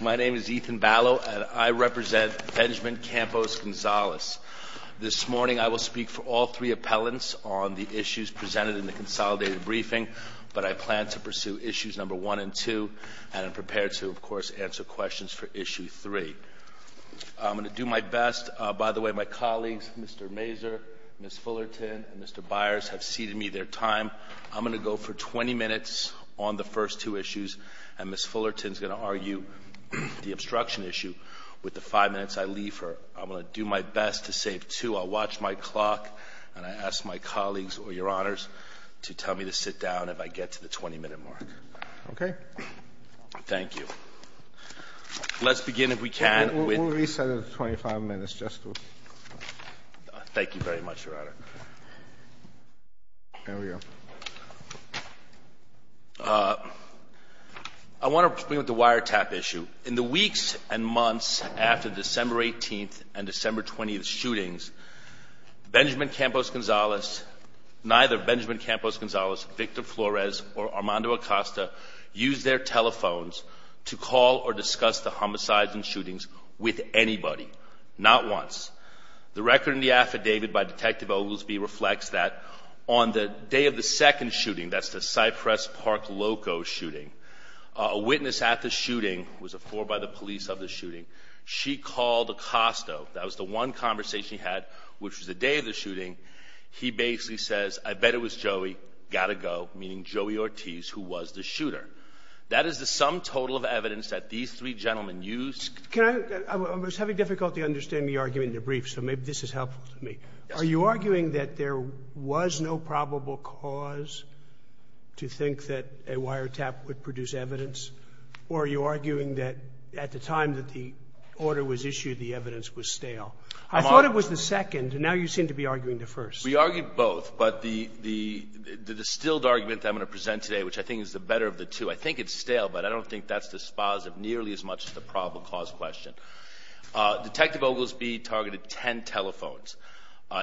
My name is Ethan Ballot and I represent Benjamin Campos Gonzalez. This morning I will speak for all three appellants on the issues presented in the consolidated briefing, but I plan to pursue issues number one and two, and I'm prepared to, of course, answer questions for issue three. I'm going to do my best. By the way, my colleagues, Mr. Mazur, Ms. Fullerton, and Mr. Byers have ceded me their time. I'm going to go for 20 minutes on the first two issues, and Ms. Fullerton is going to argue the obstruction issue with the five minutes I leave her. I'm going to do my best to save two. I'll watch my clock, and I ask my colleagues or Your Honors to tell me to sit down if I get to the 20-minute mark. Roberts. Okay. Flores. Thank you. Let's begin, if we can, with — Roberts. We'll reset it to 25 minutes just to — Flores. Thank you very much, Your Honor. There we go. I want to begin with the wiretap issue. In the weeks and months after the December 18th and December 20th shootings, Benjamin Campos Gonzalez, neither Benjamin Campos Gonzalez, Victor Flores, or Armando Acosta used their telephones to call or discuss the homicides and shootings with anybody, not once. The record in the affidavit by Detective Oglesby reflects that on the day of the second shooting, that's the Cypress Park Loco shooting, a witness at the shooting was informed by the police of the shooting. She called Acosta. That was the one conversation he had, which was the day of the shooting. He basically says, I bet it was Joey. Got to go, meaning Joey Ortiz, who was the shooter. That is the sum total of evidence that these three gentlemen used. Can I — I was having difficulty understanding your argument in the brief, so maybe this is helpful to me. Yes. Are you arguing that there was no probable cause to think that a wiretap would produce evidence, or are you arguing that at the time that the order was issued, the evidence was stale? I thought it was the second. Now you seem to be arguing the first. We argued both. But the distilled argument that I'm going to present today, which I think is the better of the two. I think it's stale, but I don't think that's dispositive nearly as much as the probable cause question. Detective Oglesby targeted ten telephones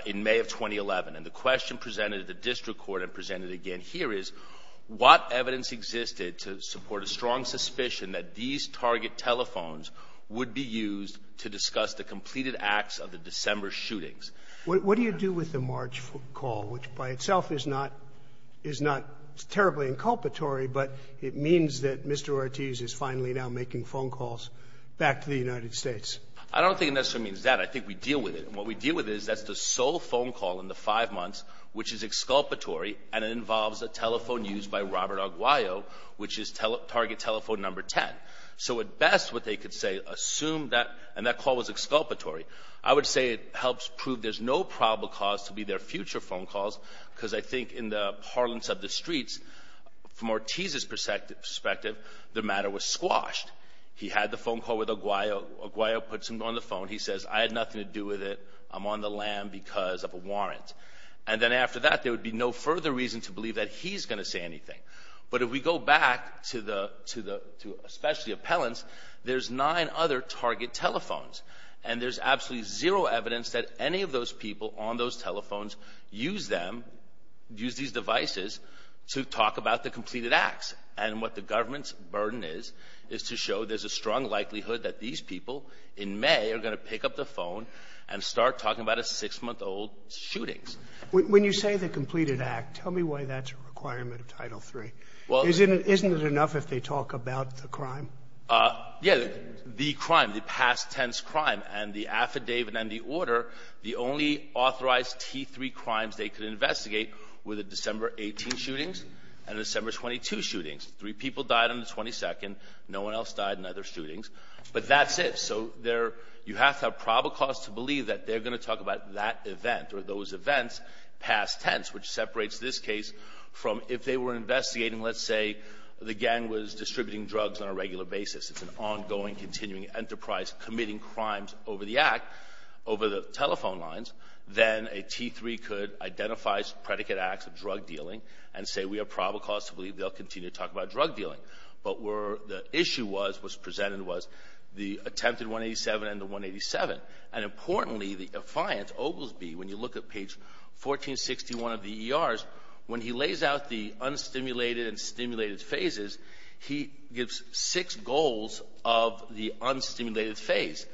in May of 2011, and the question presented at the district court and presented again here is, what evidence existed to support a strong suspicion that these target telephones would be used to discuss the completed acts of the December shootings? What do you do with the March call, which by itself is not — is not terribly inculpatory, but it means that Mr. Ortiz is finally now making phone calls back to the United States? I don't think it necessarily means that. I think we deal with it. And what we deal with is that's the sole phone call in the five months which is exculpatory, and it involves a telephone used by Robert Aguayo, which is target telephone number 10. So at best, what they could say, assume that — and that call was exculpatory. I would say it helps prove there's no probable cause to be their future phone calls because I think in the parlance of the streets, from Ortiz's perspective, the matter was squashed. He had the phone call with Aguayo. Aguayo puts him on the phone. He says, I had nothing to do with it. I'm on the lam because of a warrant. And then after that, there would be no further reason to believe that he's going to say anything. But if we go back to the — to especially appellants, there's nine other target telephones. And there's absolutely zero evidence that any of those people on those telephones use them — use these devices to talk about the completed acts. And what the government's burden is, is to show there's a strong likelihood that these people in May are going to pick up the phone and start talking about a six-month-old shooting. When you say the completed act, tell me why that's a requirement of Title III. Well — Isn't it enough if they talk about the crime? Yeah. The crime. The past tense crime. And the affidavit and the order, the only authorized T3 crimes they could investigate were the December 18 shootings and the December 22 shootings. Three people died on the 22nd. No one else died in either shootings. But that's it. So there — you have to have probable cause to believe that they're going to talk about that event or those events past tense, which separates this case from if they were investigating, let's say, the gang was distributing drugs on a regular basis. It's an ongoing, continuing enterprise committing crimes over the act, over the telephone lines. Then a T3 could identify predicate acts of drug dealing and say, we have probable cause to believe they'll continue to talk about drug dealing. But where the issue was, was presented, was the attempted 187 and the 187. And importantly, the affiant, Oblesby, when you look at page 1461 of the ERs, when he lays out the unstimulated and stimulated phases, he gives six goals of the unstimulated phase.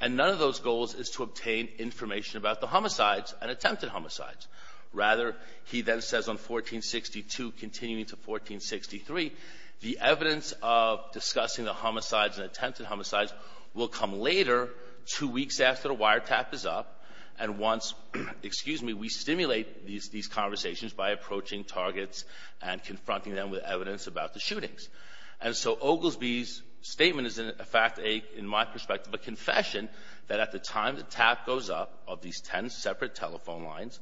And none of those goals is to obtain information about the homicides and attempted homicides. Rather, he then says on 1462, continuing to 1463, the evidence of discussing the homicides and attempted homicides will come later, two weeks after the wiretap is up, and once we stimulate these conversations by approaching targets and confronting them with evidence about the shootings. And so Oblesby's statement is, in fact, in my perspective, a confession that at the time the tap goes up of these ten separate telephone lines,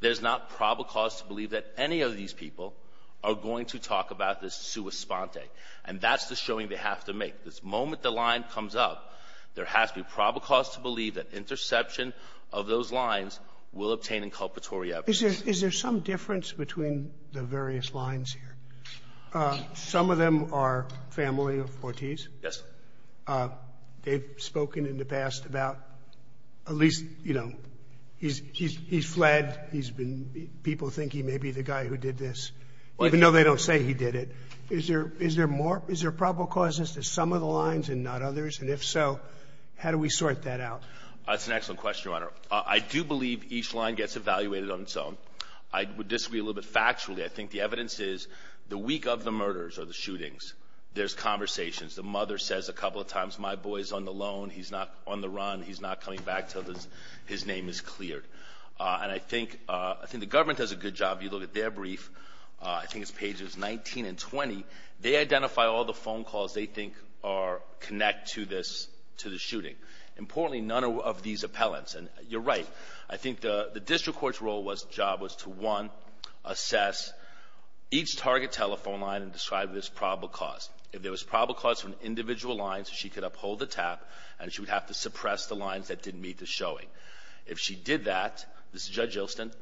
there's not probable cause to believe that any of these people are going to talk about this sua sponte. And that's the showing they have to make. The moment the line comes up, there has to be probable cause to believe that interception of those lines will obtain inculpatory evidence. Is there some difference between the various lines here? Some of them are family of Ortiz. Yes. They've spoken in the past about at least, you know, he's fled, people think he may be the guy who did this, even though they don't say he did it. Is there probable causes to some of the lines and not others? And if so, how do we sort that out? That's an excellent question, Your Honor. I do believe each line gets evaluated on its own. I would disagree a little bit factually. I think the evidence is the week of the murders or the shootings, there's conversations. The mother says a couple of times, my boy's on the loan. He's not on the run. He's not coming back until his name is cleared. And I think the government does a good job. You look at their brief. I think it's pages 19 and 20. They identify all the phone calls they think connect to the shooting. Importantly, none of these appellants. And you're right. I think the district court's role was, job was to, one, assess each target telephone line and describe this probable cause. If there was probable cause from individual lines, she could uphold the tap and she would have to suppress the lines that didn't meet the showing. If she did that, this is Judge Ilston,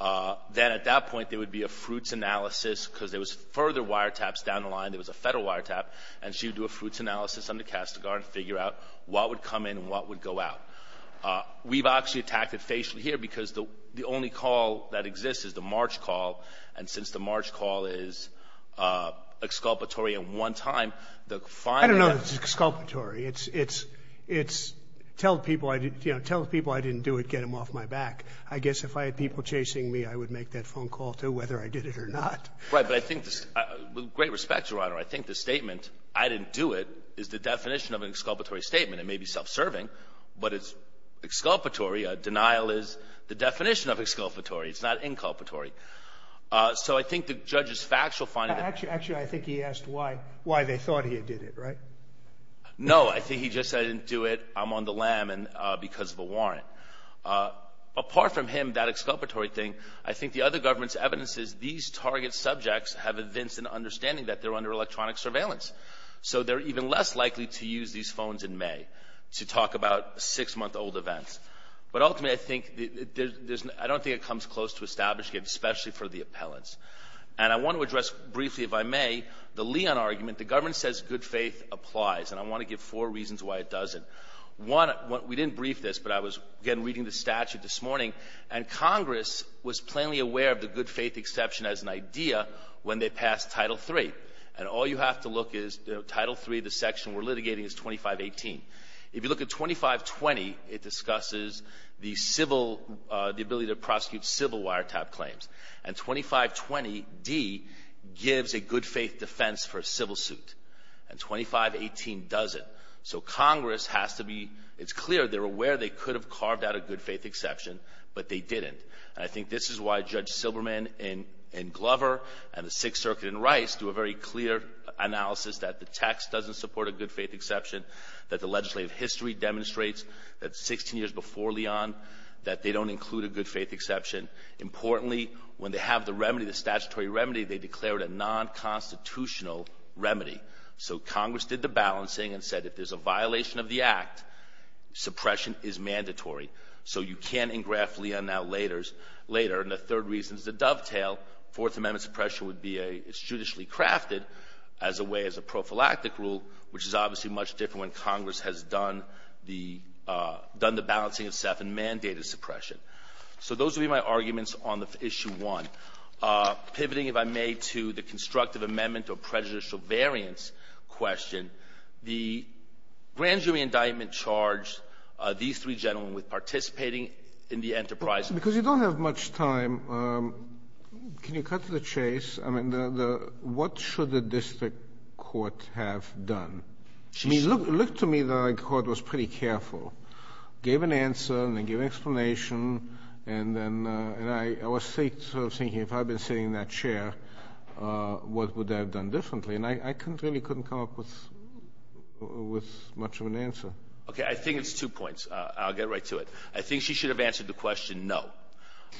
then at that point there would be a fruits analysis because there was further wiretaps down the line. There was a Federal wiretap. And she would do a fruits analysis under Castigar and figure out what would come in and what would go out. We've actually attacked it facially here because the only call that exists is the March call. And since the March call is exculpatory in one time, the finding of the ---- I don't know that it's exculpatory. It's tell people I didn't do it, get them off my back. I guess if I had people chasing me, I would make that phone call, too, whether I did it or not. Right. But I think, with great respect, Your Honor, I think the statement I didn't do it is the definition of an exculpatory statement. It may be self-serving, but it's exculpatory. A denial is the definition of exculpatory. It's not inculpatory. So I think the judge's factual finding ---- Actually, I think he asked why they thought he had did it, right? No. I think he just said I didn't do it. I'm on the lam because of a warrant. Apart from him, that exculpatory thing, I think the other government's evidence is these target subjects have evidence and understanding that they're under electronic surveillance. So they're even less likely to use these phones in May to talk about six-month-old events. But ultimately, I think there's no ---- I don't think it comes close to establishing it, especially for the appellants. And I want to address briefly, if I may, the Leon argument. The government says good faith applies, and I want to give four reasons why it doesn't. One, we didn't brief this, but I was, again, reading the statute this morning, and Congress was plainly aware of the good faith exception as an idea when they passed Title III. And all you have to look is, you know, Title III, the section we're litigating is 2518. If you look at 2520, it discusses the civil ---- the ability to prosecute civil wiretap claims. And 2520d gives a good faith defense for a civil suit. And 2518 doesn't. So Congress has to be ---- it's clear they're aware they could have carved out a good faith exception, but they didn't. And I think this is why Judge Silberman and Glover and the Sixth Circuit and Rice do a very clear analysis that the text doesn't support a good faith exception, that the legislative history demonstrates that 16 years before Leon that they don't include a good faith exception. Importantly, when they have the remedy, the statutory remedy, they declared a nonconstitutional remedy. So Congress did the balancing and said if there's a violation of the act, suppression is mandatory. So you can't engraft Leon out later. And the third reason is a dovetail. Fourth Amendment suppression would be a ---- it's judicially crafted as a way, as a prophylactic rule, which is obviously much different when Congress has done the ---- done the balancing itself and mandated suppression. So those would be my arguments on the issue one. Pivoting, if I may, to the constructive amendment or prejudicial variance question, the grand jury indictment charged these three gentlemen with participating in the enterprise ---- Because you don't have much time. Can you cut to the chase? I mean, the ---- what should the district court have done? I mean, look to me that I caught was pretty careful. Gave an answer and then gave an explanation. And then ---- and I was thinking if I'd been sitting in that chair, what would I have done differently? And I couldn't really come up with much of an answer. Okay. I think it's two points. I'll get right to it. I think she should have answered the question no.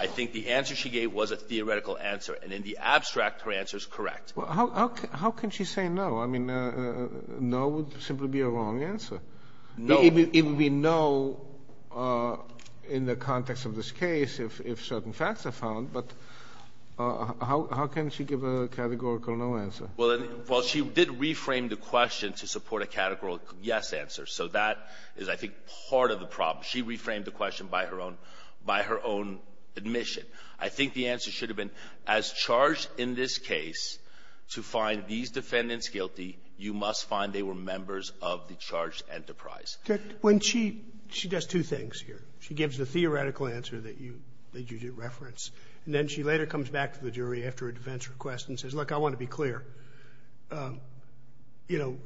I think the answer she gave was a theoretical answer. And in the abstract, her answer is correct. Well, how can she say no? I mean, no would simply be a wrong answer. No. It would be no in the context of this case if certain facts are found. But how can she give a categorical no answer? Well, she did reframe the question to support a categorical yes answer. So that is, I think, part of the problem. She reframed the question by her own admission. I think the answer should have been as charged in this case to find these defendants guilty, you must find they were members of the charged enterprise. When she does two things here. She gives the theoretical answer that you did reference, and then she later comes back to the jury after a defense request and says, look, I want to be clear. You know,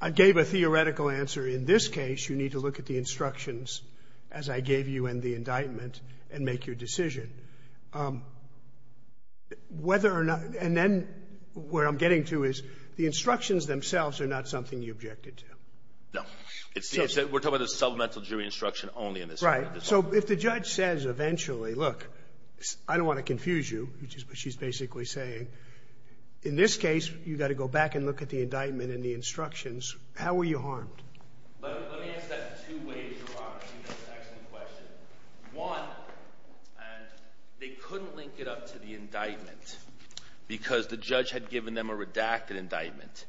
I gave a theoretical answer. In this case, you need to look at the instructions as I gave you in the indictment and make your decision. And then what I'm getting to is the instructions themselves are not something you objected to. No. We're talking about a supplemental jury instruction only in this case. Right. So if the judge says eventually, look, I don't want to confuse you, which is what she's basically saying. In this case, you've got to go back and look at the indictment and the instructions. How were you harmed? Let me ask that in two ways, Your Honor, to see if that's an excellent question. One, they couldn't link it up to the indictment because the judge had given them a redacted indictment.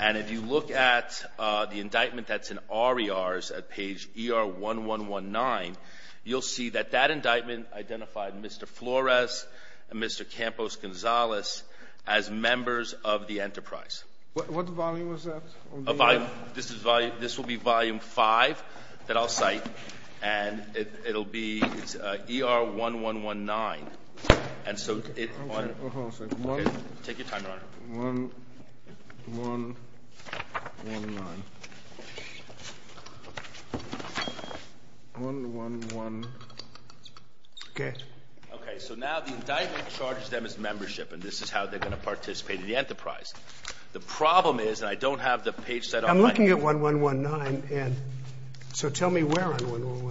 And if you look at the indictment that's in RERs at page ER-1119, you'll see that that indictment identified Mr. Flores and Mr. Campos-Gonzalez as members of the enterprise. What volume was that? A volume. This is volume — this will be volume 5 that I'll cite, and it'll be — it's ER-1119. And so it — Hold on a second. Okay. Take your time, Your Honor. 1-1-1-9. 1-1-1. Okay. Okay. So now the indictment charges them as membership, and this is how they're going to participate in the enterprise. The problem is, and I don't have the page set up — I'm looking at 1-1-1-9, and so tell me where I'm on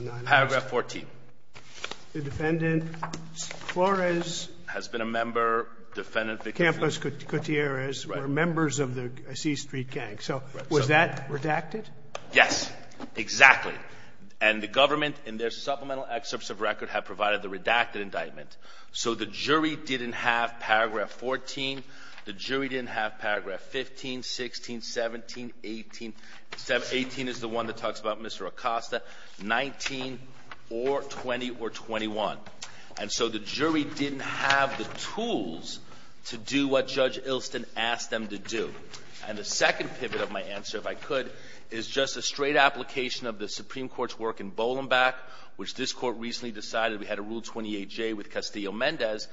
1-1-1-9. Paragraph 14. The defendant, Flores — Has been a member. The defendant — Campos Gutierrez were members of the C Street gang. So was that redacted? Yes. Exactly. And the government, in their supplemental excerpts of record, have provided the redacted indictment. So the jury didn't have paragraph 14. The jury didn't have paragraph 15, 16, 17, 18. 18 is the one that talks about Mr. Acosta. 19 or 20 or 21. And so the jury didn't have the tools to do what Judge Ilston asked them to do. And the second pivot of my answer, if I could, is just a straight application of the Supreme Court's work in Bolombac, which this Court recently decided. We had a Rule 28J with Castillo-Mendez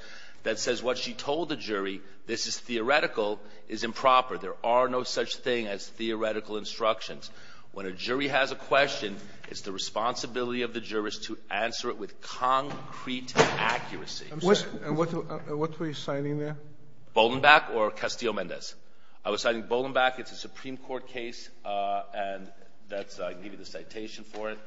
that says what she told the jury, this is theoretical, is improper. There are no such thing as theoretical instructions. When a jury has a question, it's the responsibility of the jurist to answer it with concrete accuracy. And what were you citing there? Bolombac or Castillo-Mendez. I was citing Bolombac. It's a Supreme Court case, and I can give you the citation for it.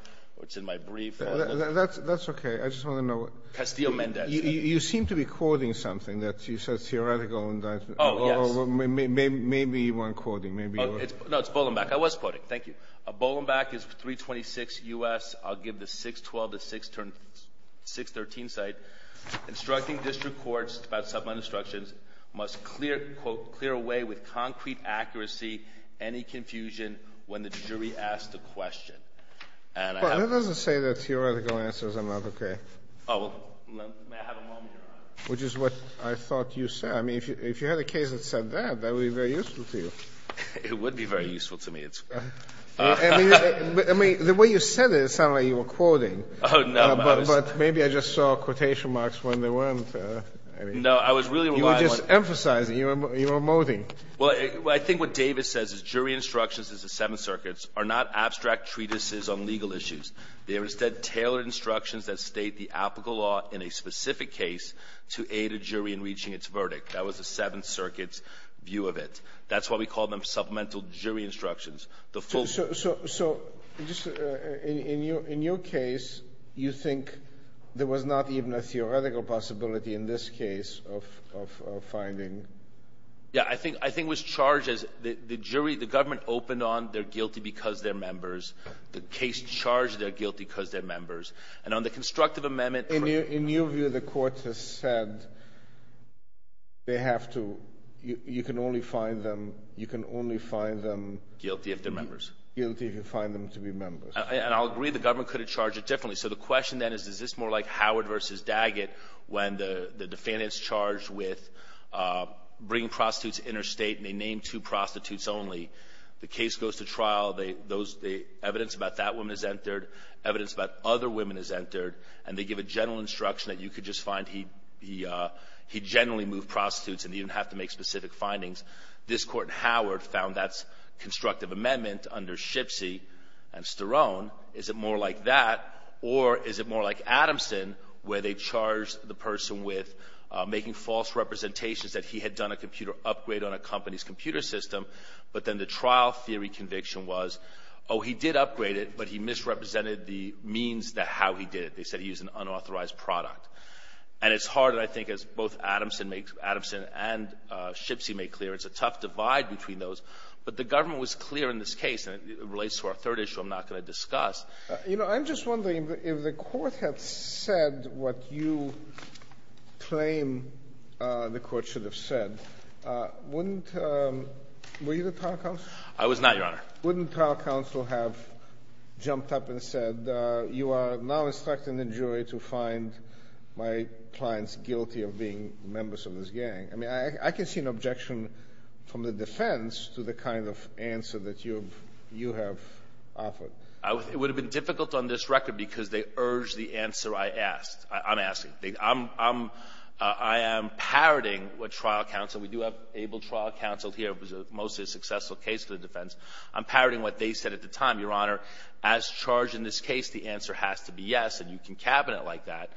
It's in my brief. That's okay. I just want to know. Castillo-Mendez. You seem to be quoting something that you said is theoretical indictment. Oh, yes. Maybe you weren't quoting. Maybe you were. No, it's Bolombac. I was quoting. Thank you. Bolombac is 326 U.S. I'll give the 612 to 613 site. Instructing district courts about sublime instructions must clear, quote, clear away with concrete accuracy any confusion when the jury asks the question. And I have to say that theoretical answers are not okay. Oh, well, may I have a moment, Your Honor? Which is what I thought you said. I mean, if you had a case that said that, that would be very useful to you. It would be very useful to me. I mean, the way you said it, it sounded like you were quoting. Oh, no. But maybe I just saw quotation marks when they weren't. No, I was really relying on you. You were just emphasizing. You were emoting. Well, I think what Davis says is jury instructions in the Seventh Circuit are not abstract treatises on legal issues. They are instead tailored instructions that state the applicable law in a specific case to aid a jury in reaching its verdict. That was the Seventh Circuit's view of it. That's why we call them supplemental jury instructions. So just in your case, you think there was not even a theoretical possibility in this case of finding? Yeah. I think it was charged as the jury, the government opened on they're guilty because they're members. The case charged they're guilty because they're members. And on the constructive amendment — In your view, the court has said they have to — you can only find them — you can only find them — Guilty if they're members. Guilty if you find them to be members. And I'll agree the government could have charged it differently. So the question then is, is this more like Howard v. Daggett when the defendant is charged with bringing prostitutes interstate, and they name two prostitutes only. The case goes to trial. They — those — the evidence about that woman is entered. Evidence about other women is entered. And they give a general instruction that you could just find he — he generally moved prostitutes, and you didn't have to make specific findings. This court in Howard found that's constructive amendment under Shipsy and Sterone. Is it more like that, or is it more like Adamson where they charged the person with making false representations that he had done a computer upgrade on a company's computer system, but then the trial theory conviction was, oh, he did upgrade it, but he misrepresented the means that — how he did it. They said he used an unauthorized product. And it's hard, I think, as both Adamson makes — Adamson and Shipsy make clear, it's a tough divide between those. But the government was clear in this case, and it relates to our third issue I'm not going to discuss. You know, I'm just wondering, if the court had said what you claim the court should have said, wouldn't — were you the trial counsel? I was not, Your Honor. Wouldn't trial counsel have jumped up and said, you are now instructing the jury to find my clients guilty of being members of this gang? I mean, I can see an objection from the defense to the kind of answer that you have offered. It would have been difficult on this record because they urged the answer I asked. I'm asking. I'm — I am parroting what trial counsel — we do have able trial counsel here. It was a mostly successful case for the defense. I'm parroting what they said at the time. Your Honor, as charged in this case, the answer has to be yes. And you can cabinet like that.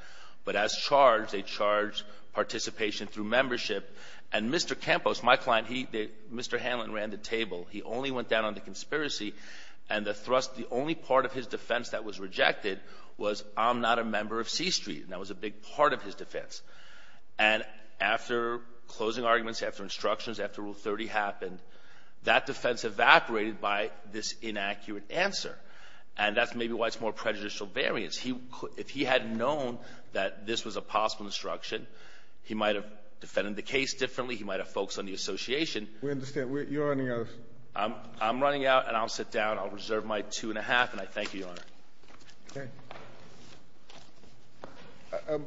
But as charged, they charge participation through membership. And Mr. Campos, my client, he — Mr. Hanlon ran the table. He only went down on the conspiracy. And the thrust — the only part of his defense that was rejected was, I'm not a member of C Street. And that was a big part of his defense. And after closing arguments, after instructions, after Rule 30 happened, that defense evaporated by this inaccurate answer. And that's maybe why it's more prejudicial variance. He — if he had known that this was a possible instruction, he might have defended the case differently. He might have focused on the association. We understand. You're running out of — I'm running out, and I'll sit down. I'll reserve my two and a half, and I thank you, Your Honor. Okay.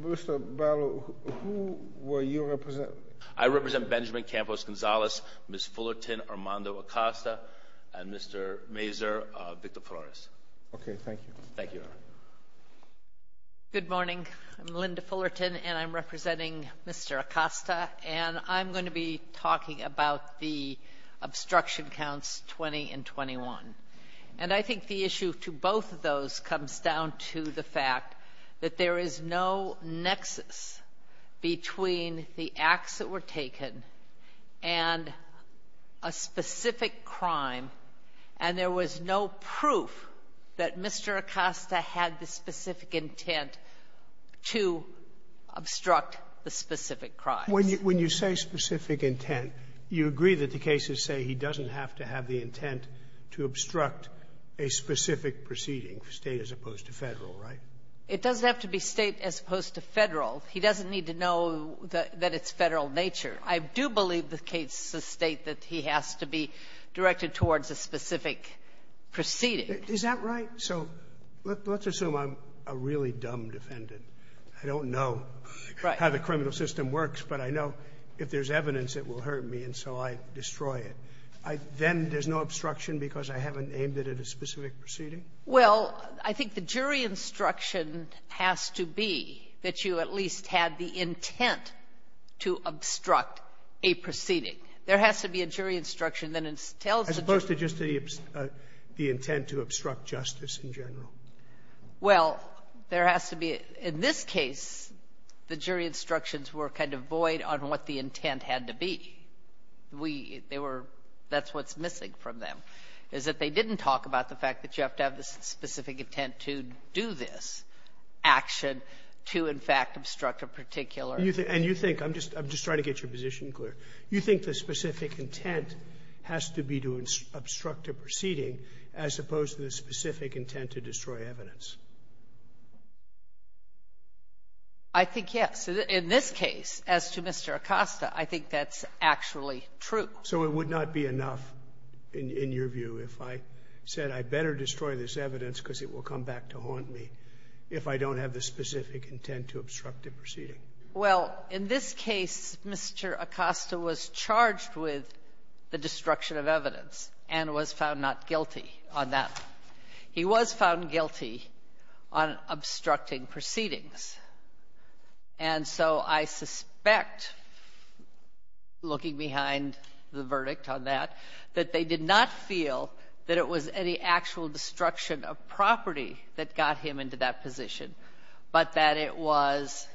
Mr. Barlow, who were you representing? I represent Benjamin Campos Gonzalez, Ms. Fullerton Armando Acosta, and Mr. Mazur, Victor Flores. Okay. Thank you. Thank you, Your Honor. Good morning. I'm Linda Fullerton, and I'm representing Mr. Acosta. And I'm going to be talking about the obstruction counts 20 and 21. And I think the issue to both of those comes down to the fact that there is no nexus between the acts that were taken and a specific crime, and there was no proof that Mr. Acosta had the specific intent to obstruct the specific crimes. When you say specific intent, you agree that the cases say he doesn't have to have the intent to obstruct a specific proceeding, State as opposed to Federal, right? It doesn't have to be State as opposed to Federal. He doesn't need to know that it's Federal nature. I do believe the cases state that he has to be directed towards a specific proceeding. Is that right? So let's assume I'm a really dumb defendant. I don't know how the criminal system works. But I know if there's evidence, it will hurt me, and so I destroy it. Then there's no obstruction because I haven't aimed it at a specific proceeding? Well, I think the jury instruction has to be that you at least had the intent to obstruct a proceeding. There has to be a jury instruction that tells the jury. As opposed to just the intent to obstruct justice in general. Well, there has to be. In this case, the jury instructions were kind of void on what the intent had to be. We they were that's what's missing from them, is that they didn't talk about the fact that you have to have the specific intent to do this action to, in fact, obstruct a particular. And you think, I'm just trying to get your position clear, you think the specific intent has to be to obstruct a proceeding as opposed to the specific intent to destroy evidence? I think, yes. In this case, as to Mr. Acosta, I think that's actually true. So it would not be enough, in your view, if I said I'd better destroy this evidence because it will come back to haunt me if I don't have the specific intent to obstruct a proceeding? Well, in this case, Mr. Acosta was charged with the destruction of evidence and was found not guilty on that. He was found guilty on obstructing proceedings. And so I suspect, looking behind the verdict on that, that they did not feel that it was any actual destruction of property that got him into that position, but that it was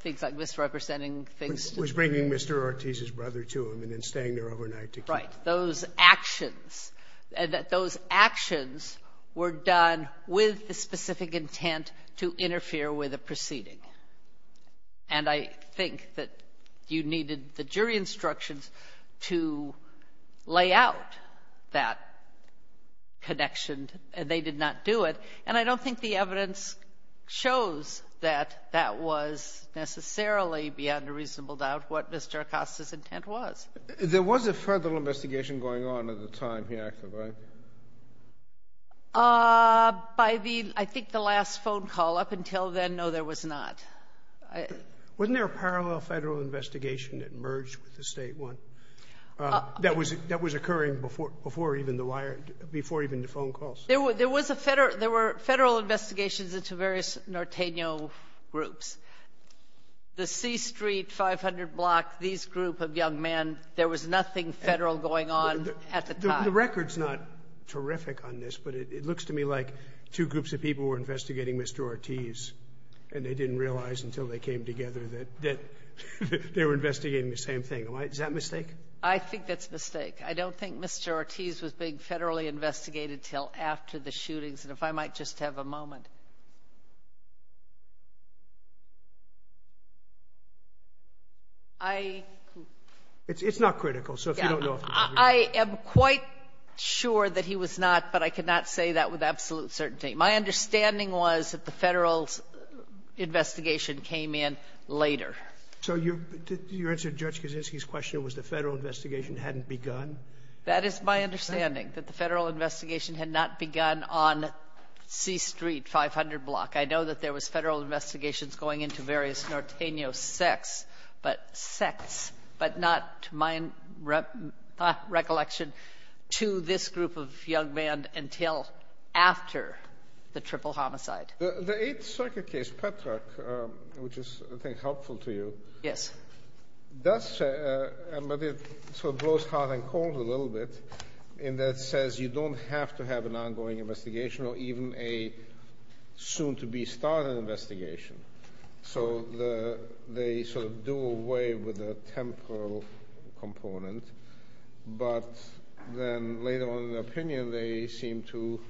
things like misrepresenting things to the jury. Was bringing Mr. Ortiz's brother to him and then staying there overnight to keep him. Right. Those actions, those actions were done with the specific intent to interfere with a proceeding. And I think that you needed the jury instructions to lay out that connection, and they did not do it. And I don't think the evidence shows that that was necessarily, beyond a reasonable doubt, what Mr. Acosta's intent was. There was a further investigation going on at the time he acted, right? By the, I think, the last phone call. Up until then, no, there was not. Wasn't there a parallel Federal investigation that merged with the State one that was occurring before even the phone calls? There was a Federal — there were Federal investigations into various Norteño groups. The C Street 500 block, these group of young men, there was nothing Federal going on at the time. The record's not terrific on this, but it looks to me like two groups of people were investigating Mr. Ortiz, and they didn't realize until they came together that they were investigating the same thing. Am I — is that a mistake? I think that's a mistake. I don't think Mr. Ortiz was being Federally investigated until after the shootings. And if I might just have a moment. I — I am quite sure that he was not, but I cannot say that with absolute certainty. My understanding was that the Federal investigation came in later. So your answer to Judge Kaczynski's question was the Federal investigation hadn't begun? That is my understanding, that the Federal investigation had not begun on C Street 500 block. I know that there was Federal investigations going into various Norteño sects, but not, to my recollection, to this group of young men until after the triple homicide. The Eighth Circuit case, Petrak, which is, I think, helpful to you. Yes. Does — but it sort of blows hot and cold a little bit in that it says you don't have to have an ongoing investigation or even a soon-to-be-started investigation. So they sort of do away with the temporal component, but then later on in the opinion they seem to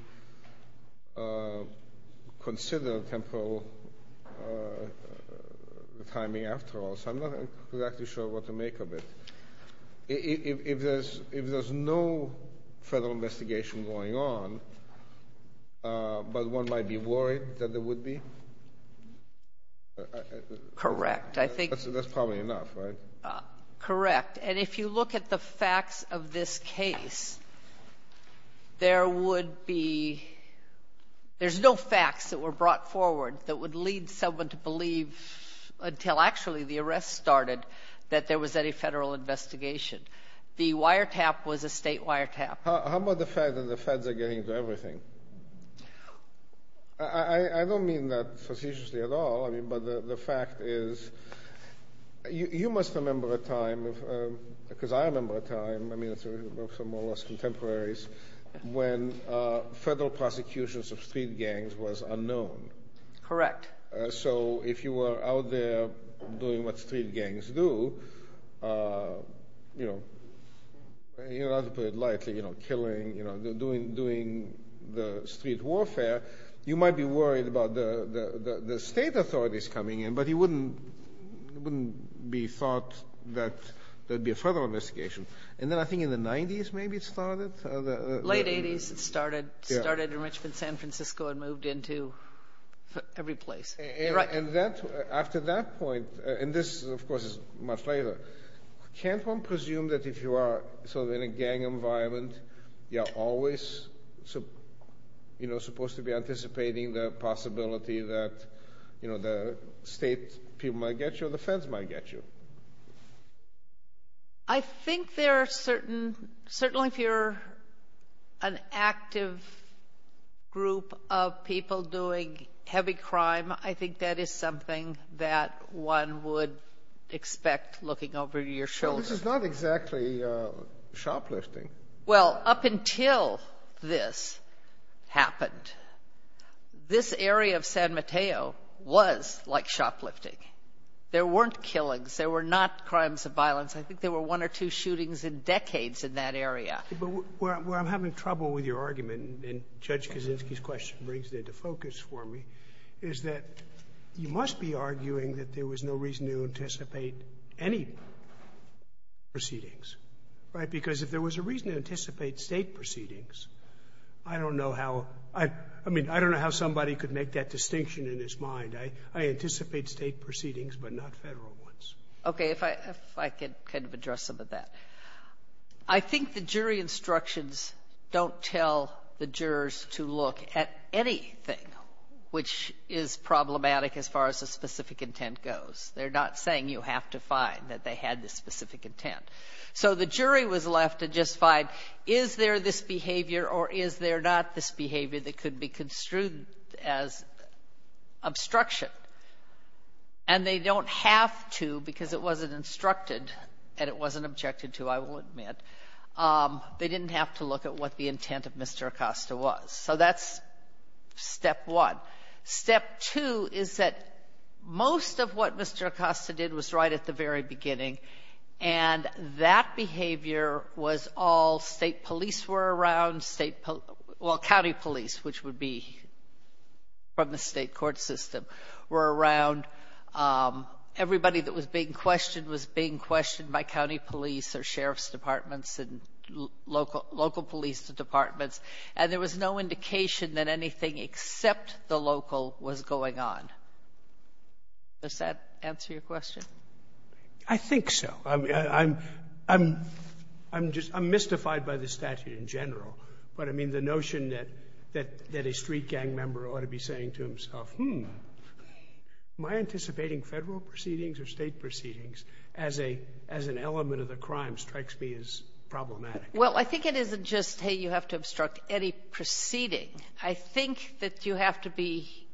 consider temporal timing after all. So I'm not exactly sure what to make of it. If there's no Federal investigation going on, but one might be worried that there would be? Correct. I think — That's probably enough, right? Correct. And if you look at the facts of this case, there would be — there's no facts that were brought forward that would lead someone to believe until actually the arrest started that there was any Federal investigation. The wiretap was a state wiretap. How about the fact that the Feds are getting into everything? I don't mean that facetiously at all. I mean, but the fact is you must remember a time, because I remember a time — I mean, it's from all of us contemporaries — when Federal prosecutions of street gangs was unknown. Correct. So if you were out there doing what street gangs do, you know, you don't have to put lightly, you know, killing, you know, doing the street warfare, you might be worried about the state authorities coming in, but it wouldn't be thought that there'd be a Federal investigation. And then I think in the 90s maybe it started? Late 80s it started. Yeah. It started in Richmond, San Francisco and moved into every place. Right. And after that point — and this, of course, is much later — can't one presume that if you are sort of in a gang environment, you're always, you know, supposed to be anticipating the possibility that, you know, the state people might get you or the Feds might get you? I think there are certain — certainly if you're an active group of people doing heavy crime, I think that is something that one would expect looking over your shoulder. This is not exactly shoplifting. Well, up until this happened, this area of San Mateo was like shoplifting. There weren't killings. There were not crimes of violence. I think there were one or two shootings in decades in that area. But where I'm having trouble with your argument, and Judge Kaczynski's question brings it into focus for me, is that you must be arguing that there was no reason to anticipate any state proceedings. Right? Because if there was a reason to anticipate state proceedings, I don't know how — I mean, I don't know how somebody could make that distinction in his mind. I anticipate state proceedings, but not Federal ones. Okay. If I could kind of address some of that. I think the jury instructions don't tell the jurors to look at anything which is problematic as far as the specific intent. So the jury was left to just find, is there this behavior or is there not this behavior that could be construed as obstruction? And they don't have to because it wasn't instructed and it wasn't objected to, I will admit. They didn't have to look at what the intent of Mr. Acosta was. So that's step one. Step two is that most of what Mr. Acosta did was right at the very beginning, and that behavior was all state police were around, state — well, county police, which would be from the state court system, were around. Everybody that was being questioned was being questioned by county police or sheriff's departments and local police departments, and there was no indication that anything except the local was going on. Does that answer your question? I think so. I'm — I'm — I'm just — I'm mystified by the statute in general. But, I mean, the notion that — that a street gang member ought to be saying to himself, hmm, am I anticipating Federal proceedings or State proceedings as a — as an element of the crime strikes me as problematic? Well, I think it isn't just, hey, you have to obstruct any proceeding. I think that you have to be,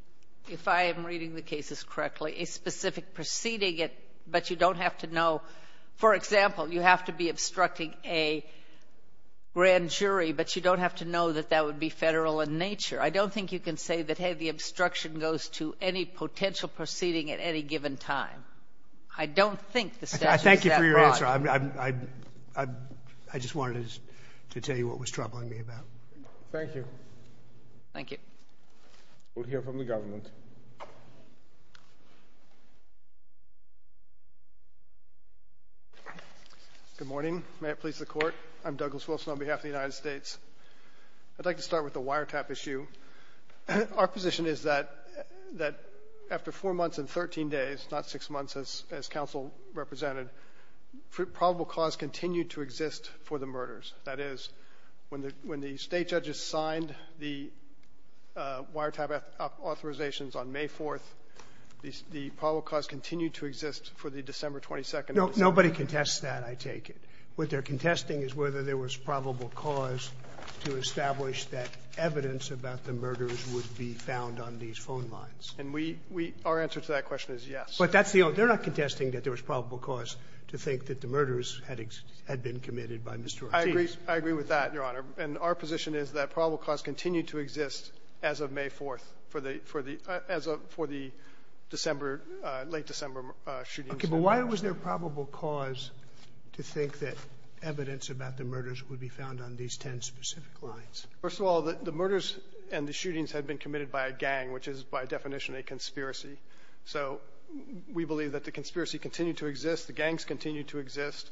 if I am reading the cases correctly, a specific proceeding, but you don't have to know — for example, you have to be obstructing a grand jury, but you don't have to know that that would be Federal in nature. I don't think you can say that, hey, the obstruction goes to any potential proceeding at any given time. I don't think the statute is that broad. I thank you for your answer. I'm — I just wanted to tell you what was troubling me about it. Thank you. Thank you. We'll hear from the government. Good morning. May it please the Court. I'm Douglas Wilson on behalf of the United States. I'd like to start with the wiretap issue. Our position is that — that after 4 months and 13 days, not 6 months as — as counsel represented, probable cause continued to exist for the murders. That is, when the — when the State judges signed the wiretap authorizations on May 4th, the — the probable cause continued to exist for the December 22nd. Nobody contests that, I take it. What they're contesting is whether there was probable cause to establish that evidence about the murders would be found on these phone lines. And we — we — our answer to that question is yes. But that's the only — they're not contesting that there was probable cause to think that the murders had — had been committed by Mr. Ortiz. I agree — I agree with that, Your Honor. And our position is that probable cause continued to exist as of May 4th for the — for the — as of — for the December — late December shootings. Okay. But why was there probable cause to think that evidence about the murders would be found on these 10 specific lines? First of all, the — the murders and the shootings had been committed by a gang, which is, by definition, a conspiracy. So we believe that the conspiracy continued to exist. The gangs continued to exist.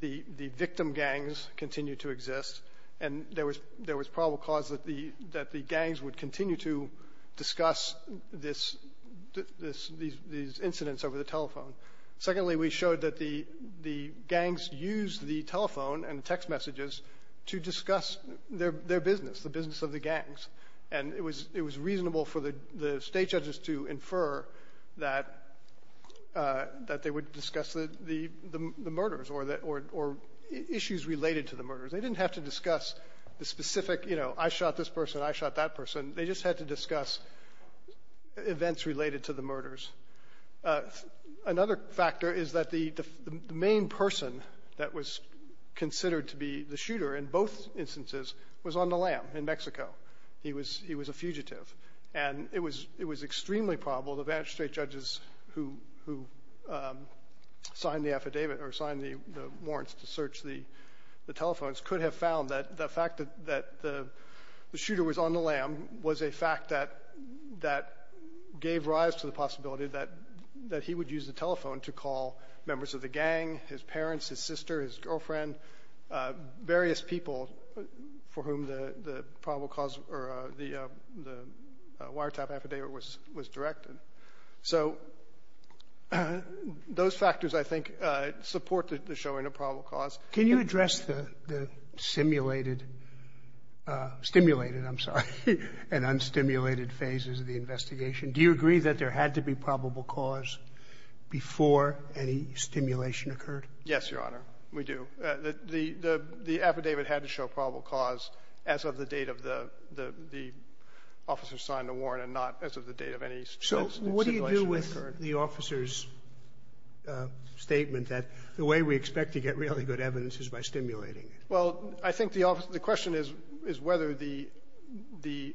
The — the victim gangs continued to exist. And there was — there was probable cause that the — that the gangs would continue to discuss this — this — these — these incidents over the telephone. Secondly, we showed that the — the gangs used the telephone and text messages to discuss their — their business, the business of the gangs. And it was — it was reasonable for the — the State judges to infer that — that they would discuss the — the — the murders or the — or issues related to the murders. They didn't have to discuss the specific, you know, I shot this person, I shot that person. They just had to discuss events related to the murders. Another factor is that the — the main person that was considered to be the shooter in both instances was on the LAM in Mexico. He was — he was a fugitive. And it was — it was extremely probable the Vance State judges who — who signed the affidavit or signed the warrants to search the telephones could have found that the fact that — that the shooter was on the LAM was a fact that — that gave rise to the possibility that — that he would use the telephone to call members of the gang, his parents, his or the wiretap affidavit was — was directed. So those factors, I think, support the showing of probable cause. Can you address the — the simulated — stimulated, I'm sorry, and unstimulated phases of the investigation? Do you agree that there had to be probable cause before any stimulation occurred? Yes, Your Honor, we do. The — the affidavit had to show probable cause as of the date of the — the officer signed the warrant and not as of the date of any simulation that occurred. So what do you do with the officer's statement that the way we expect to get really good evidence is by stimulating it? Well, I think the question is whether the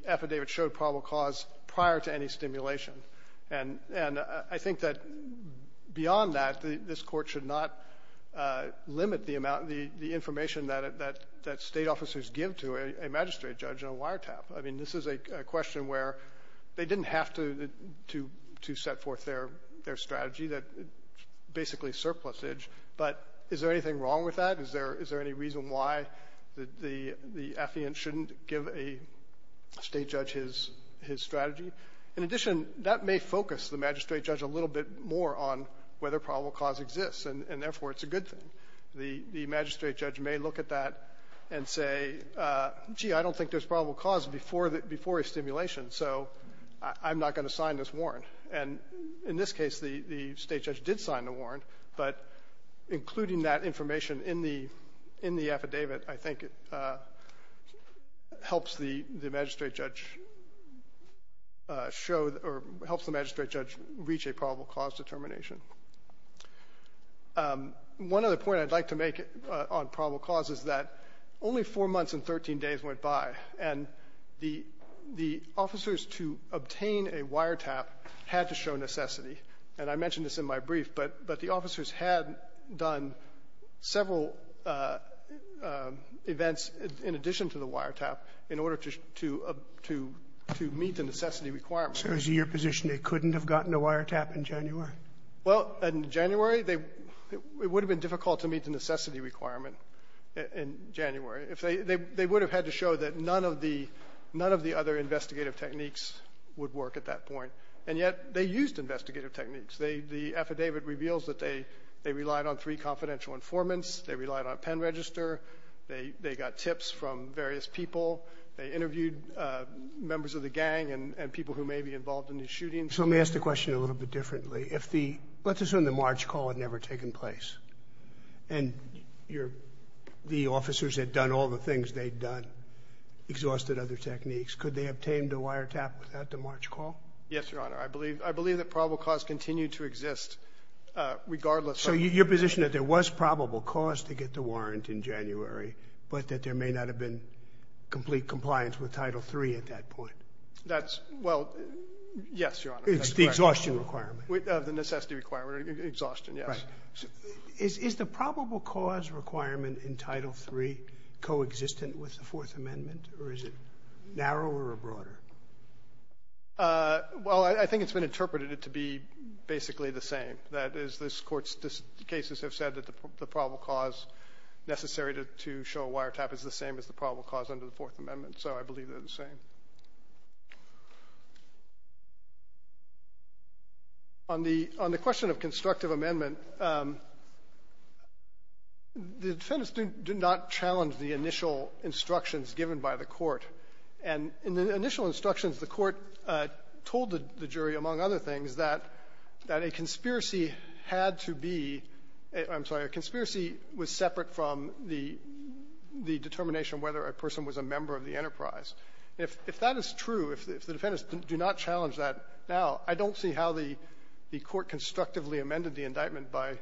affidavit showed probable cause prior to any stimulation. And I think that beyond that, this Court should not limit the amount — the information that — that State officers give to a magistrate judge and a wiretap. I mean, this is a question where they didn't have to — to set forth their strategy that basically surplusage. But is there anything wrong with that? Is there — is there any reason why the — the affiant shouldn't give a State judge his — his strategy? In addition, that may focus the magistrate judge a little bit more on whether probable cause exists, and therefore it's a good thing. The — the magistrate judge may look at that and say, gee, I don't think there's probable cause before the — before a stimulation, so I'm not going to sign this warrant. And in this case, the — the State judge did sign the warrant, but including that information in the — in the affidavit, I think, helps the — the magistrate judge show — or helps the magistrate judge reach a probable cause determination. One other point I'd like to make on probable cause is that only four months and 13 days went by, and the — the officers to obtain a wiretap had to show necessity. And I mentioned this in my brief, but — but the officers had done several events in addition to the wiretap in order to — to meet the necessity requirements. So is it your position they couldn't have gotten a wiretap in January? Well, in January, they — it would have been difficult to meet the necessity requirement in January if they — they would have had to show that none of the — none of the other investigative techniques would work at that point. And yet they used investigative techniques. They — the affidavit reveals that they — they relied on three confidential informants, they relied on a pen register, they — they got tips from various people, they interviewed members of the gang and — and people who may be involved in the shooting. So let me ask the question a little bit differently. If the — let's assume the March call had never taken place, and your — the officers had done all the things they'd done, exhausted other techniques, could they have obtained a wiretap without the March call? Yes, Your Honor. I believe — I believe that probable cause continued to exist regardless of — So your position that there was probable cause to get the warrant in January, but that there may not have been complete compliance with Title III at that point? That's — well, yes, Your Honor. It's the exhaustion requirement. The necessity requirement, exhaustion, yes. Right. Is the probable cause requirement in Title III coexistent with the Fourth Amendment, or is it narrower or broader? Well, I think it's been interpreted to be basically the same. That is, this Court's cases have said that the probable cause necessary to show a wiretap is the same as the probable cause under the Fourth Amendment. So I believe they're the same. On the — on the question of constructive amendment, the defendants do not challenge the initial instructions given by the Court. And in the initial instructions, the Court told the jury, among other things, that a conspiracy had to be — I'm sorry, a conspiracy was separate from the determination whether a person was a member of the enterprise. If that is true, if the defendants do not challenge that now, I don't see how the Court constructively amended the indictment by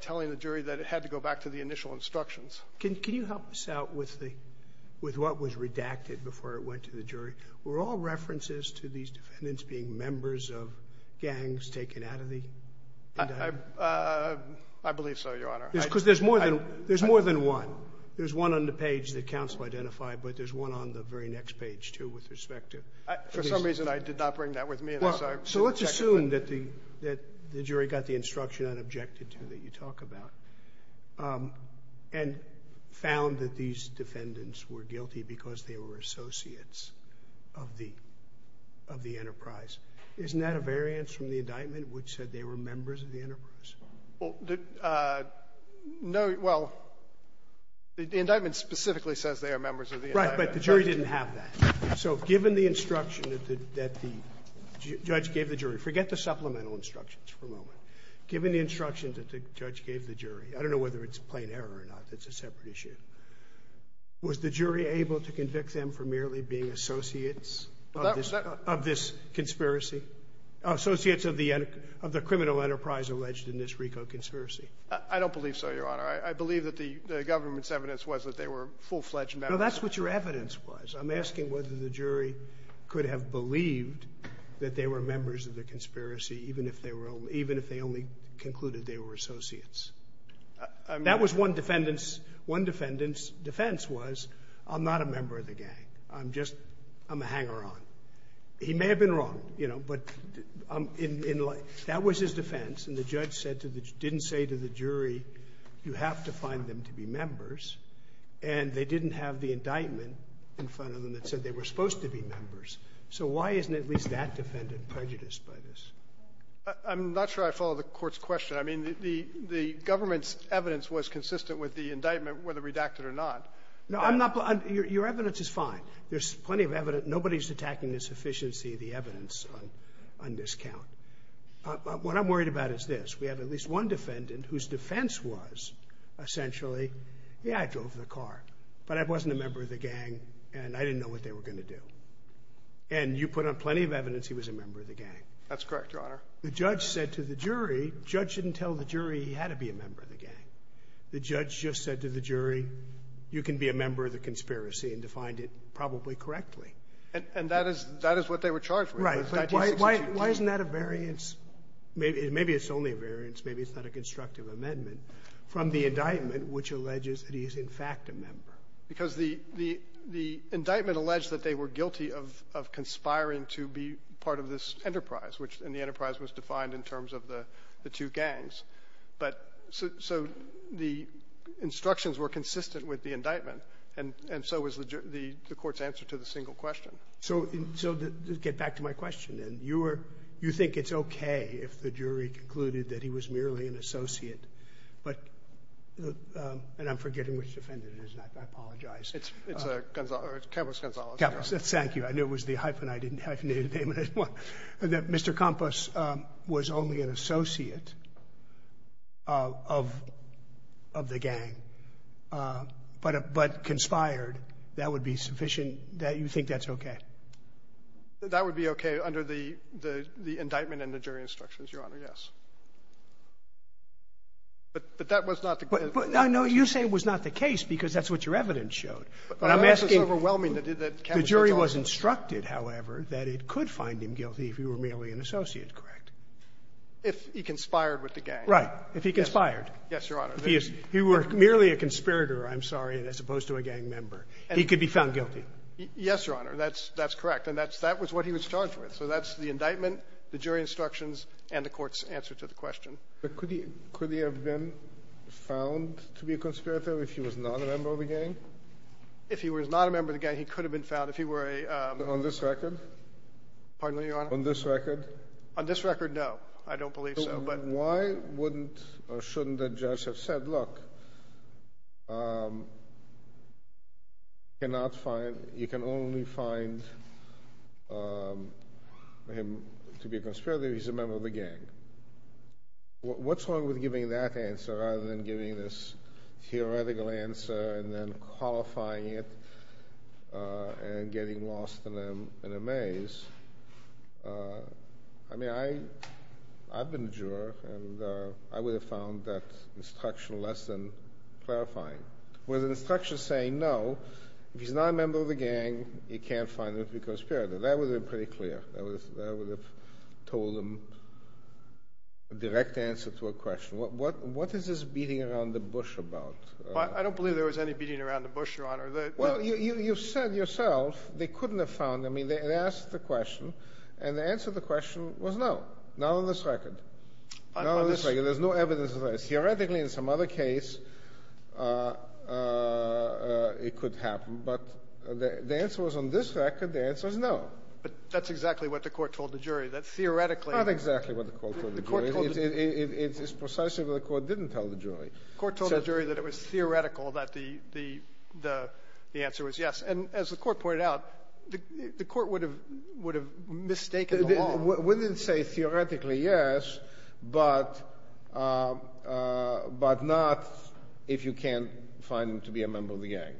telling the jury that it had to go back to the initial instructions. Can you help us out with the — with what was redacted before it went to the jury? Were all references to these defendants being members of gangs taken out of the indictment? I believe so, Your Honor. Because there's more than — there's more than one. There's one on the page that counsel identified, but there's one on the very next page, too, with respect to — For some reason, I did not bring that with me, and I'm sorry. So let's assume that the jury got the instruction unobjected to that you talk about and found that these defendants were guilty because they were associates of the — of the enterprise. Isn't that a variance from the indictment, which said they were members of the enterprise? Well, no — well, the indictment specifically says they are members of the enterprise. Right. But the jury didn't have that. So given the instruction that the judge gave the jury — forget the supplemental instructions for a moment. Given the instructions that the judge gave the jury — I don't know whether it's plain error or not. It's a separate issue. Was the jury able to convict them for merely being associates of this conspiracy? Associates of the criminal enterprise alleged in this RICO conspiracy. I don't believe so, Your Honor. I believe that the government's evidence was that they were full-fledged members. No, that's what your evidence was. I'm asking whether the jury could have believed that they were members of the conspiracy even if they were — even if they only concluded they were associates. That was one defendant's — one defendant's defense was, I'm not a member of the gang. I'm just — I'm a hanger-on. He may have been wrong, you know, but in — that was his defense. And the judge said to the — didn't say to the jury, you have to find them to be members. And they didn't have the indictment in front of them that said they were supposed to be members. So why isn't at least that defendant prejudiced by this? I'm not sure I follow the court's question. I mean, the government's evidence was consistent with the indictment, whether redacted or not. No, I'm not — your evidence is fine. There's plenty of evidence. Nobody's attacking the sufficiency of the evidence on this count. What I'm worried about is this. We have at least one defendant whose defense was essentially, yeah, I drove the car, but I wasn't a member of the gang, and I didn't know what they were going to do. And you put on plenty of evidence he was a member of the gang. That's correct, Your Honor. The judge said to the jury — judge didn't tell the jury he had to be a member of the gang. The judge just said to the jury, you can be a member of the conspiracy and defined it probably correctly. And that is — that is what they were charged with. Right. But why isn't that a variance? Maybe it's only a variance. Maybe it's not a constructive amendment. From the indictment, which alleges that he is, in fact, a member. Because the — the indictment alleged that they were guilty of conspiring to be part of this enterprise, which — and the enterprise was defined in terms of the two gangs. But — so the instructions were consistent with the indictment, and so was the court's answer to the single question. So — so get back to my question. And you were — you think it's okay if the jury concluded that he was merely an associate, but — and I'm forgetting which defendant it is. I apologize. It's — it's Gonzalo. It's Campos Gonzalo. Campos. Thank you. I knew it was the hyphen. I didn't have to name it. Mr. Campos was only an associate of — of the gang, but conspired. That would be sufficient — you think that's okay? That would be okay under the — the indictment and the jury instructions, Your Honor, yes. But — but that was not the case. But — no, you say it was not the case because that's what your evidence showed. But I'm asking — But that's what's overwhelming, that Campos — The jury was instructed, however, that it could find him guilty if he were merely an associate, correct? If he conspired with the gang. Right. If he conspired. Yes, Your Honor. If he is — if he were merely a conspirator, I'm sorry, as opposed to a gang member, he could be found guilty. Yes, Your Honor. That's — that's correct. And that's — that was what he was charged with. So that's the indictment, the jury instructions, and the court's answer to the question. But could he — could he have been found to be a conspirator if he was not a member of the gang? If he was not a member of the gang, he could have been found if he were a — On this record? Pardon me, Your Honor? On this record? On this record, no. I don't believe so, but — And why wouldn't or shouldn't the judge have said, look, you cannot find — you can only find him to be a conspirator if he's a member of the gang? What's wrong with giving that answer rather than giving this theoretical answer and then qualifying it and getting lost in a — in a maze? I mean, I — I've been a juror, and I would have found that instruction less than clarifying. Was the instruction saying, no, if he's not a member of the gang, he can't find him to be a conspirator? That would have been pretty clear. That would have told him a direct answer to a question. What is this beating around the bush about? I don't believe there was any beating around the bush, Your Honor. Well, you said yourself they couldn't have found him. I mean, they asked the question, and the answer to the question was no, not on this record. Not on this record. There's no evidence of that. Theoretically, in some other case, it could happen. But the answer was on this record. The answer is no. But that's exactly what the court told the jury, that theoretically — Not exactly what the court told the jury. The court told — It's precisely what the court didn't tell the jury. The court told the jury that it was theoretical that the answer was yes. And as the court pointed out, the court would have mistaken the law. We didn't say theoretically yes, but not if you can't find him to be a member of the gang.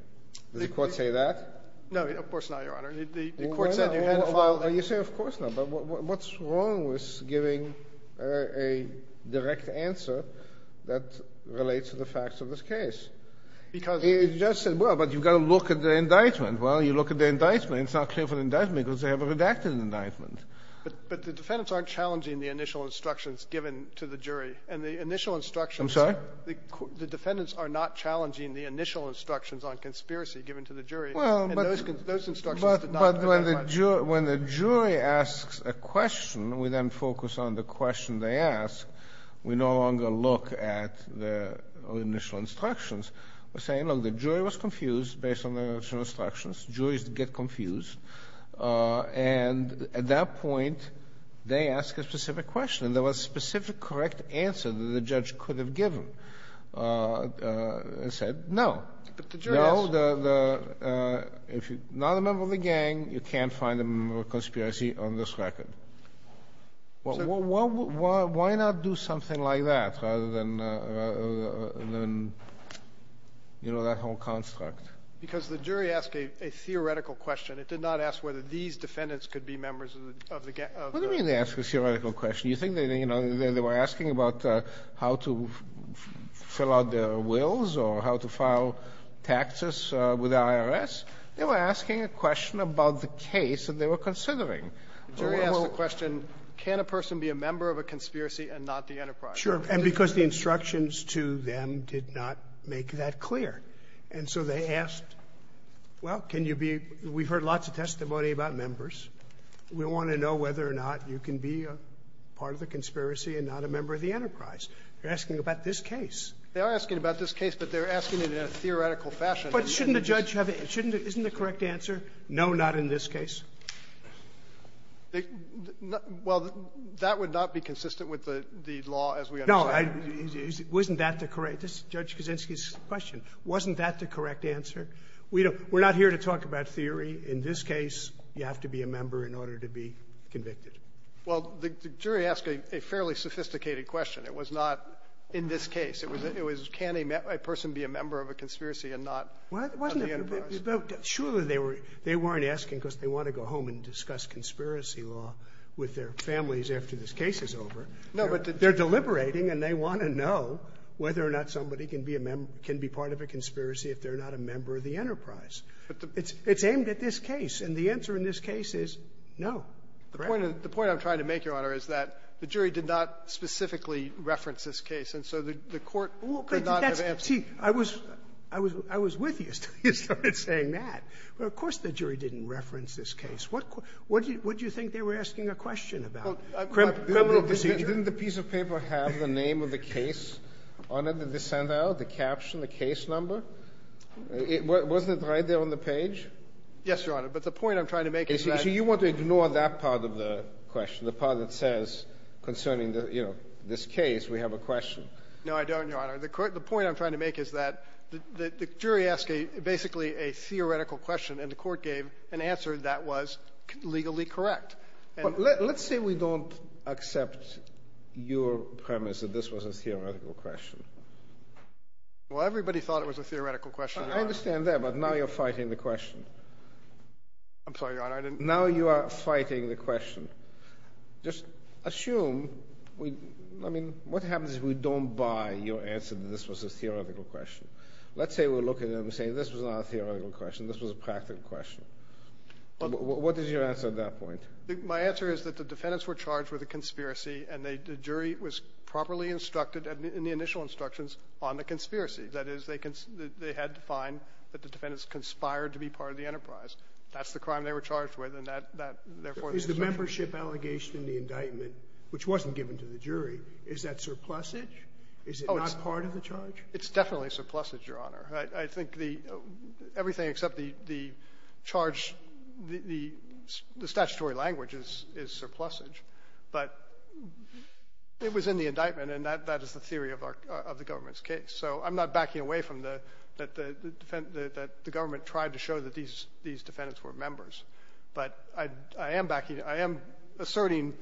Did the court say that? No, of course not, Your Honor. The court said you had to find him. Well, you say, of course not. But what's wrong with giving a direct answer that relates to the facts of this case? Because — The judge said, well, but you've got to look at the indictment. Well, you look at the indictment. It's not clear from the indictment because they have a redacted indictment. But the defendants aren't challenging the initial instructions given to the jury. And the initial instructions — I'm sorry? The defendants are not challenging the initial instructions on conspiracy given to the jury. And those instructions did not — But when the jury asks a question, we then focus on the question they ask. We no longer look at the initial instructions. We're saying, look, the jury was confused based on the initial instructions. Juries get confused. And at that point, they ask a specific question. And there was a specific correct answer that the judge could have given and said no. But the jury asked. Well, if you're not a member of the gang, you can't find a member of conspiracy on this record. Why not do something like that rather than, you know, that whole construct? Because the jury asked a theoretical question. It did not ask whether these defendants could be members of the — What do you mean they asked a theoretical question? You think that, you know, they were asking about how to fill out their wills or how to file taxes with the IRS? They were asking a question about the case that they were considering. The jury asked the question, can a person be a member of a conspiracy and not the enterprise? Sure. And because the instructions to them did not make that clear. And so they asked, well, can you be — we've heard lots of testimony about members. We want to know whether or not you can be a part of the conspiracy and not a member of the enterprise. They're asking about this case. They are asking about this case, but they're asking it in a theoretical fashion. But shouldn't a judge have a — shouldn't a — isn't the correct answer, no, not in this case? Well, that would not be consistent with the law as we understand it. Isn't that the correct — this is Judge Kaczynski's question. Wasn't that the correct answer? We don't — we're not here to talk about theory. In this case, you have to be a member in order to be convicted. Well, the jury asked a fairly sophisticated question. It was not, in this case. It was, can a person be a member of a conspiracy and not of the enterprise? Well, surely they weren't asking because they want to go home and discuss conspiracy law with their families after this case is over. No, but the — They're deliberating, and they want to know whether or not somebody can be a member — can be part of a conspiracy if they're not a member of the enterprise. It's aimed at this case. And the answer in this case is no, correct. The point I'm trying to make, Your Honor, is that the jury did not specifically reference this case. And so the court could not have answered. See, I was with you until you started saying that. Of course the jury didn't reference this case. What do you think they were asking a question about? Criminal procedure? Didn't the piece of paper have the name of the case on it that they sent out, the caption, the case number? Wasn't it right there on the page? Yes, Your Honor. But the point I'm trying to make is that — So you want to ignore that part of the question, the part that says concerning, you know, this case, we have a question. No, I don't, Your Honor. The point I'm trying to make is that the jury asked basically a theoretical question, and the court gave an answer that was legally correct. Let's say we don't accept your premise that this was a theoretical question. Well, everybody thought it was a theoretical question. I understand that, but now you're fighting the question. I'm sorry, Your Honor, I didn't — Now you are fighting the question. Just assume — I mean, what happens if we don't buy your answer that this was a theoretical question? Let's say we're looking and we're saying this was not a theoretical question, this was a practical question. What is your answer at that point? My answer is that the defendants were charged with a conspiracy, and the jury was on the conspiracy. That is, they had to find that the defendants conspired to be part of the enterprise. That's the crime they were charged with, and that, therefore — Is the membership allegation in the indictment, which wasn't given to the jury, is that surplusage? Oh, it's — Is it not part of the charge? It's definitely surplusage, Your Honor. I think the — everything except the charge, the statutory language is surplusage. But it was in the indictment, and that is the theory of our — of the government's case. So I'm not backing away from the — that the government tried to show that these defendants were members. But I am backing — I am asserting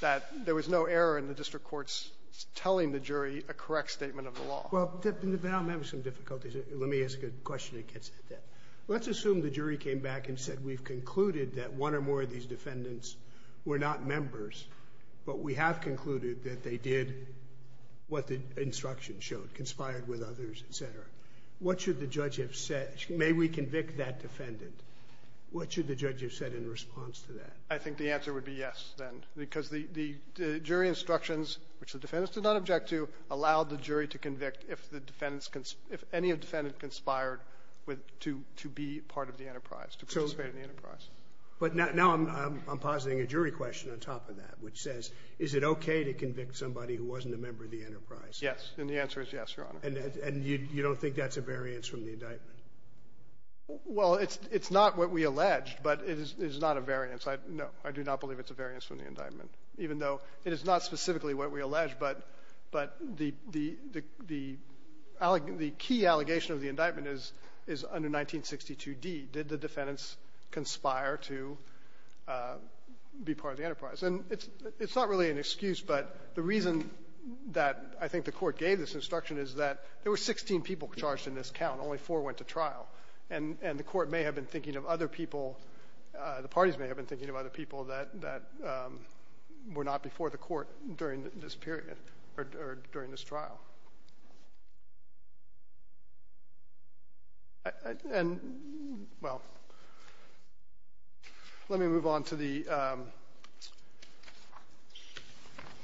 that there was no error in the district court's telling the jury a correct statement of the law. Well, there have been some difficulties. Let me ask a question that gets at that. Let's assume the jury came back and said we've concluded that one or more of these defendants were members, but we have concluded that they did what the instruction showed, conspired with others, et cetera. What should the judge have said? May we convict that defendant? What should the judge have said in response to that? I think the answer would be yes, then, because the jury instructions, which the defendants did not object to, allowed the jury to convict if the defendants — if any defendant But now I'm positing a jury question on top of that, which says, is it okay to convict somebody who wasn't a member of the enterprise? Yes. And the answer is yes, Your Honor. And you don't think that's a variance from the indictment? Well, it's not what we alleged, but it is not a variance. No, I do not believe it's a variance from the indictment, even though it is not specifically what we alleged. But the key allegation of the indictment is under 1962d. Did the defendants conspire to be part of the enterprise? And it's not really an excuse, but the reason that I think the Court gave this instruction is that there were 16 people charged in this count. Only four went to trial. And the Court may have been thinking of other people, the parties may have been thinking of other people that were not before the Court during this period or during this trial. And, well, let me move on to the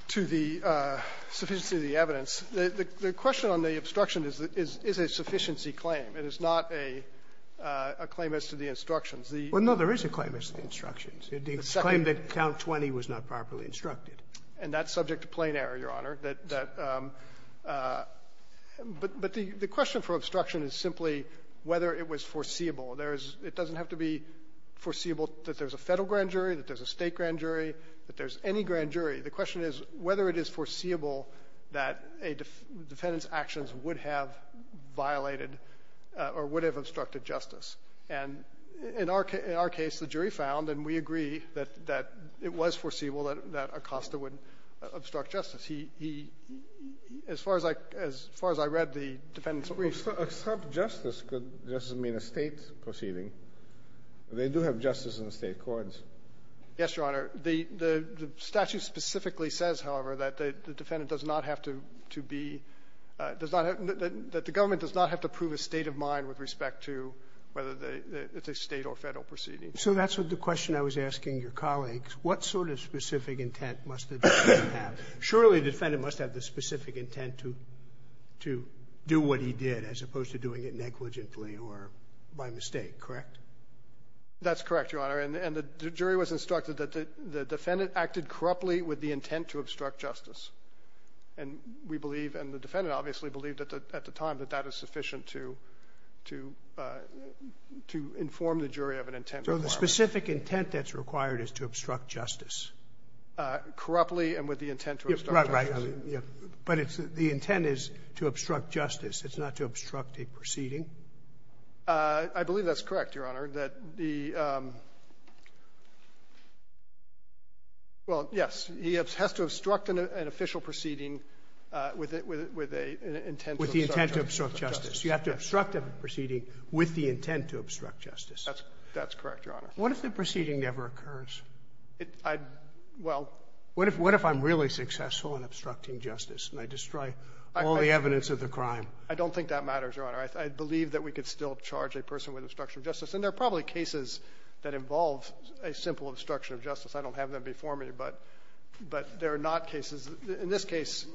to the sufficiency of the evidence. The question on the obstruction is a sufficiency claim. It is not a claim as to the instructions. Well, no, there is a claim as to the instructions. The claim that count 20 was not properly instructed. And that's subject to plain error, Your Honor. That the question for obstruction is simply whether it was foreseeable. It doesn't have to be foreseeable that there's a Federal grand jury, that there's a State grand jury, that there's any grand jury. The question is whether it is foreseeable that a defendant's actions would have violated or would have obstructed justice. And in our case, the jury found, and we agree, that it was foreseeable that Acosta would obstruct justice. He — as far as I read the defendant's briefs — Well, to obstruct justice doesn't mean a State proceeding. They do have justice in the State courts. Yes, Your Honor. The statute specifically says, however, that the defendant does not have to be — does not have — that the government does not have to prove a state of mind with respect to whether it's a State or Federal proceeding. So that's the question I was asking your colleagues. What sort of specific intent must the defendant have? Surely the defendant must have the specific intent to do what he did, as opposed to doing it negligently or by mistake, correct? That's correct, Your Honor. And the jury was instructed that the defendant acted corruptly with the intent to obstruct justice. And we believe, and the defendant obviously believed at the time that that is sufficient to inform the jury of an intent requirement. So the specific intent that's required is to obstruct justice? Corruptly and with the intent to obstruct justice. Right, right. But the intent is to obstruct justice. It's not to obstruct a proceeding. I believe that's correct, Your Honor, that the — well, yes. He has to obstruct an official proceeding with an intent to obstruct justice. With the intent to obstruct justice. You have to obstruct a proceeding with the intent to obstruct justice. That's correct, Your Honor. What if the proceeding never occurs? Well — What if I'm really successful in obstructing justice and I destroy all the evidence of the crime? I don't think that matters, Your Honor. I believe that we could still charge a person with obstruction of justice. And there are probably cases that involve a simple obstruction of justice. I don't have them before me, but there are not cases. In this case,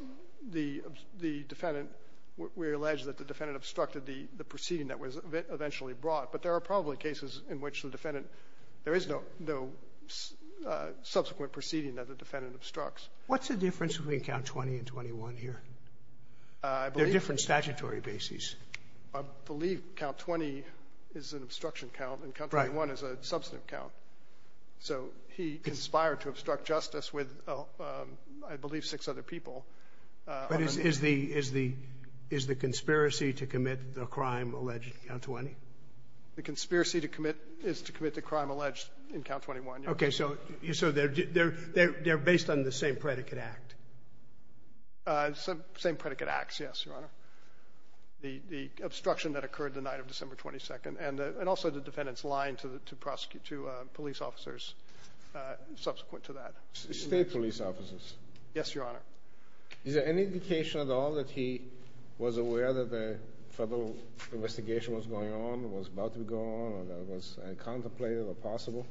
the defendant — we allege that the defendant obstructed the proceeding that was eventually brought. But there are probably cases in which the defendant — there is no subsequent proceeding that the defendant obstructs. What's the difference between Count 20 and 21 here? I believe — They're different statutory bases. I believe Count 20 is an obstruction count. Right. And Count 21 is a substantive count. So he conspired to obstruct justice with, I believe, six other people. But is the conspiracy to commit the crime alleged in Count 20? The conspiracy to commit is to commit the crime alleged in Count 21, Your Honor. Okay. So they're based on the same predicate act. Same predicate acts, yes, Your Honor. The obstruction that occurred the night of December 22nd. And also the defendant's lying to police officers subsequent to that. State police officers. Yes, Your Honor. Is there any indication at all that he was aware that the federal investigation was going on, was about to go on, or that it was contemplated or possible?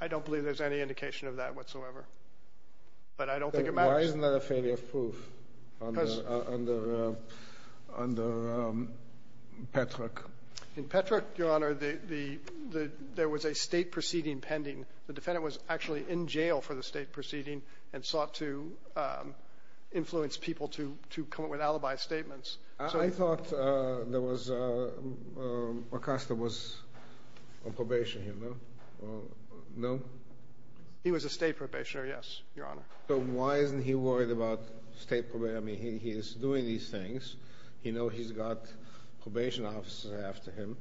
I don't believe there's any indication of that whatsoever. But I don't think it matters. Then why isn't that a failure of proof under Petrak? In Petrak, Your Honor, there was a state proceeding pending. The defendant was actually in jail for the state proceeding and sought to influence people to come up with alibi statements. I thought there was a custom of probation, you know? No? He was a state probationer, yes, Your Honor. So why isn't he worried about state probation? I mean, he is doing these things. You know he's got probation officers after him.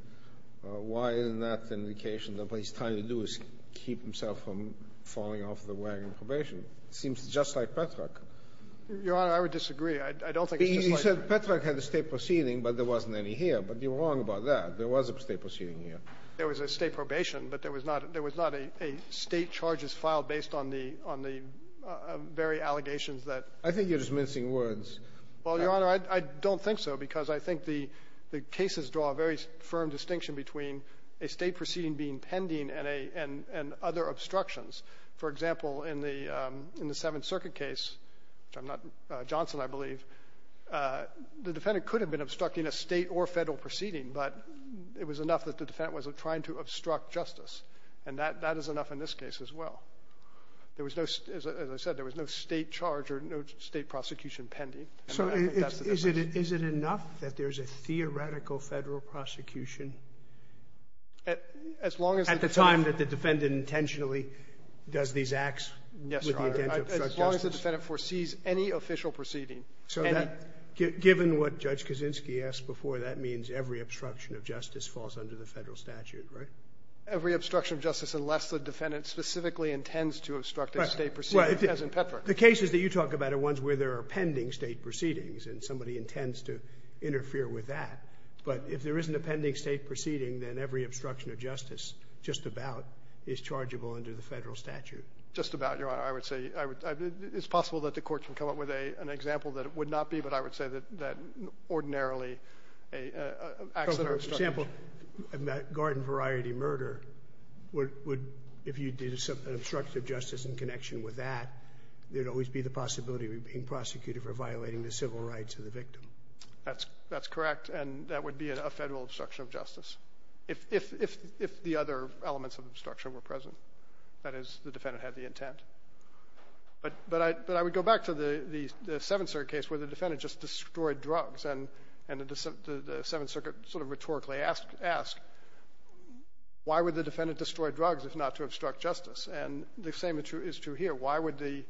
Why isn't that an indication that what he's trying to do is keep himself from falling off the wagon of probation? It seems just like Petrak. Your Honor, I would disagree. I don't think it's just like Petrak. He said Petrak had a state proceeding, but there wasn't any here. But you're wrong about that. There was a state proceeding here. There was a state probation, but there was not a state charges filed based on the very allegations that ---- I think you're just mincing words. Well, Your Honor, I don't think so, because I think the cases draw a very firm distinction between a state proceeding being pending and other obstructions. For example, in the Seventh Circuit case, which I'm not Johnson, I believe, the defendant could have been obstructing a state or Federal proceeding, but it was enough that the defendant was trying to obstruct justice. And that is enough in this case as well. There was no, as I said, there was no state charge or no state prosecution pending. And I think that's the difference. So is it enough that there's a theoretical Federal prosecution at the time that the defendant intentionally does these acts with the intent to obstruct justice? Yes, Your Honor. As long as the defendant foresees any official proceeding, any ---- So given what Judge Kaczynski asked before, that means every obstruction of justice falls under the Federal statute, right? Every obstruction of justice unless the defendant specifically intends to obstruct a state proceeding, as in Petra. Well, the cases that you talk about are ones where there are pending state proceedings, and somebody intends to interfere with that. But if there isn't a pending state proceeding, then every obstruction of justice just about is chargeable under the Federal statute. Just about, Your Honor. I would say I would ---- it's possible that the Court can come up with an example that it would not be, but I would say that ordinarily a ---- For example, a garden variety murder would, if you did an obstruction of justice in connection with that, there would always be the possibility of you being prosecuted for violating the civil rights of the victim. That's correct, and that would be a Federal obstruction of justice, if the other elements of obstruction were present. That is, the defendant had the intent. But I would go back to the Seventh Circuit case where the defendant just destroyed drugs, and the Seventh Circuit sort of rhetorically asked, why would the defendant destroy drugs if not to obstruct justice? And the same is true here. Why would the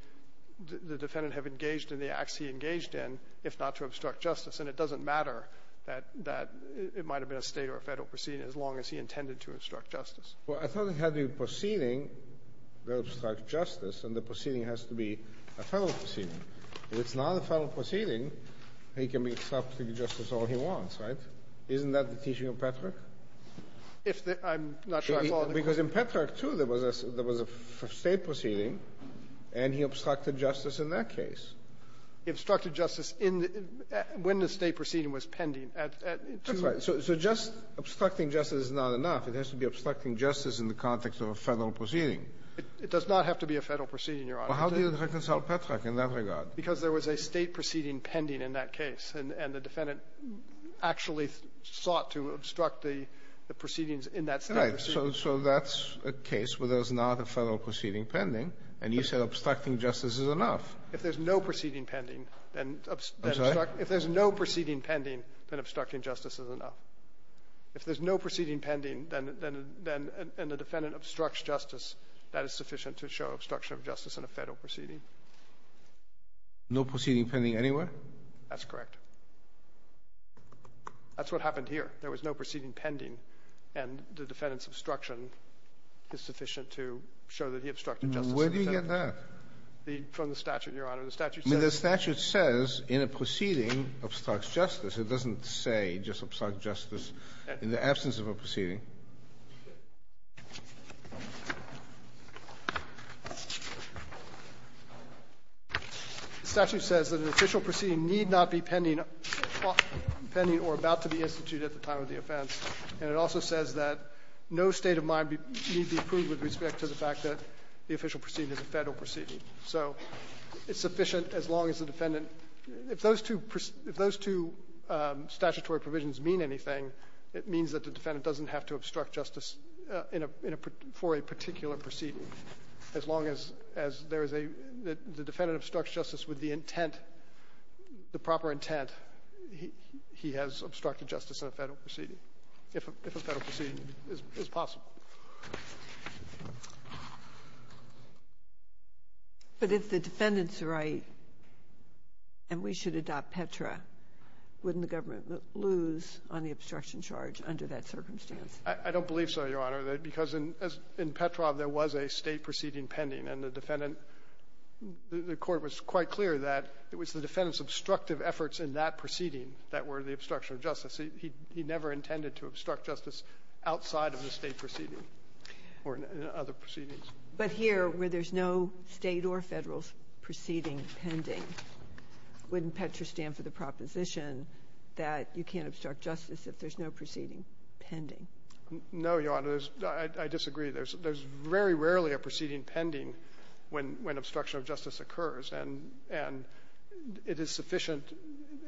defendant have engaged in the acts he engaged in if not to obstruct justice? And it doesn't matter that it might have been a state or a Federal proceeding as long as he intended to obstruct justice. Well, I thought it had to be a proceeding that obstructs justice, and the proceeding has to be a Federal proceeding. If it's not a Federal proceeding, he can obstruct justice all he wants, right? Isn't that the teaching of Petrak? If the ---- Because in Petrak, too, there was a state proceeding, and he obstructed justice in that case. He obstructed justice in the ---- when the state proceeding was pending at two ---- That's right. So just obstructing justice is not enough. It has to be obstructing justice in the context of a Federal proceeding. It does not have to be a Federal proceeding, Your Honor. Well, how do you reconcile Petrak in that regard? Because there was a state proceeding pending in that case, and the defendant actually sought to obstruct the proceedings in that state proceeding. Right. So that's a case where there's not a Federal proceeding pending, and you said obstructing justice is enough. If there's no proceeding pending, then ---- I'm sorry? If there's no proceeding pending, then obstructing justice is enough. If there's no proceeding pending, then the defendant obstructs justice, that is sufficient to show obstruction of justice in a Federal proceeding. No proceeding pending anywhere? That's correct. That's what happened here. There was no proceeding pending, and the defendant's obstruction is sufficient to show that he obstructed justice in a Federal proceeding. Where do you get that? From the statute, Your Honor. The statute says ---- I mean, the statute says in a proceeding obstructs justice. It doesn't say just obstruct justice in the absence of a proceeding. The statute says that an official proceeding need not be pending or about to be instituted at the time of the offense, and it also says that no state of mind need be approved with respect to the fact that the official proceeding is a Federal proceeding. So it's sufficient as long as the defendant ---- if those two statutory provisions mean anything, it means that the defendant doesn't have to obstruct justice in a ---- for a particular proceeding. As long as there is a ---- the defendant obstructs justice with the intent, the proper intent, he has obstructed justice in a Federal proceeding, if a Federal proceeding is possible. But if the defendant's right and we should adopt Petra, wouldn't the government lose on the obstruction charge under that circumstance? I don't believe so, Your Honor, because in Petra there was a State proceeding pending, and the defendant ---- the Court was quite clear that it was the defendant's obstructive efforts in that proceeding that were the obstruction of justice. He never intended to obstruct justice outside of the State proceeding or other proceedings. But here, where there's no State or Federal proceeding pending, wouldn't Petra stand that you can't obstruct justice if there's no proceeding pending? No, Your Honor. There's ---- I disagree. There's very rarely a proceeding pending when obstruction of justice occurs. And it is sufficient,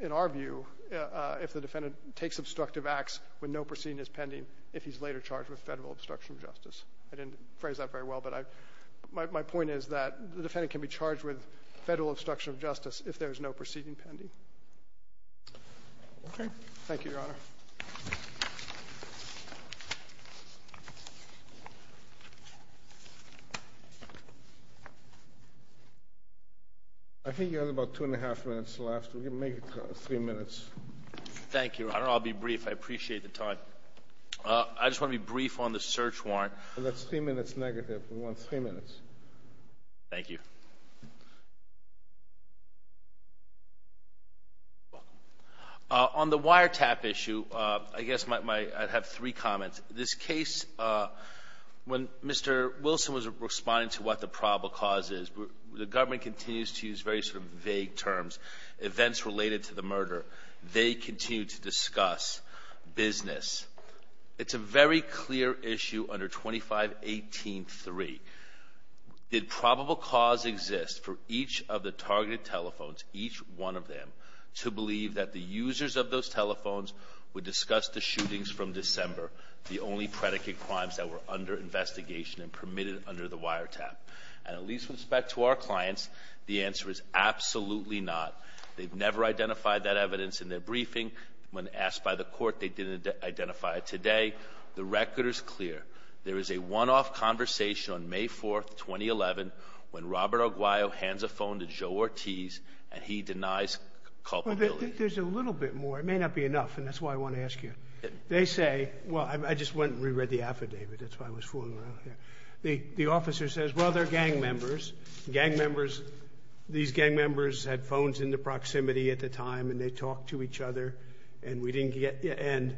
in our view, if the defendant takes obstructive acts when no proceeding is pending if he's later charged with Federal obstruction of justice. I didn't phrase that very well, but I ---- my point is that the defendant can be charged with Federal obstruction of justice if there's no proceeding pending. Okay. Thank you, Your Honor. I think you have about two and a half minutes left. We can make it three minutes. Thank you, Your Honor. I'll be brief. I appreciate the time. I just want to be brief on the search warrant. That's three minutes negative. We want three minutes. Thank you. On the wiretap issue, I guess my ---- I have three comments. This case, when Mr. Wilson was responding to what the probable cause is, the government continues to use very sort of vague terms, events related to the murder. They continue to discuss business. It's a very clear issue under 2518-3. Did probable cause exist for each of the targeted telephones, each one of them, to believe that the users of those telephones would discuss the shootings from December, the only predicate crimes that were under investigation and permitted under the wiretap? And at least with respect to our clients, the answer is absolutely not. They've never identified that evidence in their briefing. When asked by the court, they didn't identify it. Today, the record is clear. There is a one-off conversation on May 4th, 2011, when Robert Arguello hands a phone to Joe Ortiz and he denies culpability. There's a little bit more. It may not be enough, and that's why I want to ask you. They say, well, I just went and reread the affidavit. That's why I was fooling around. The officer says, well, they're gang members. Gang members, these gang members had phones in the proximity at the time, and they talked to each other, and we didn't get the end.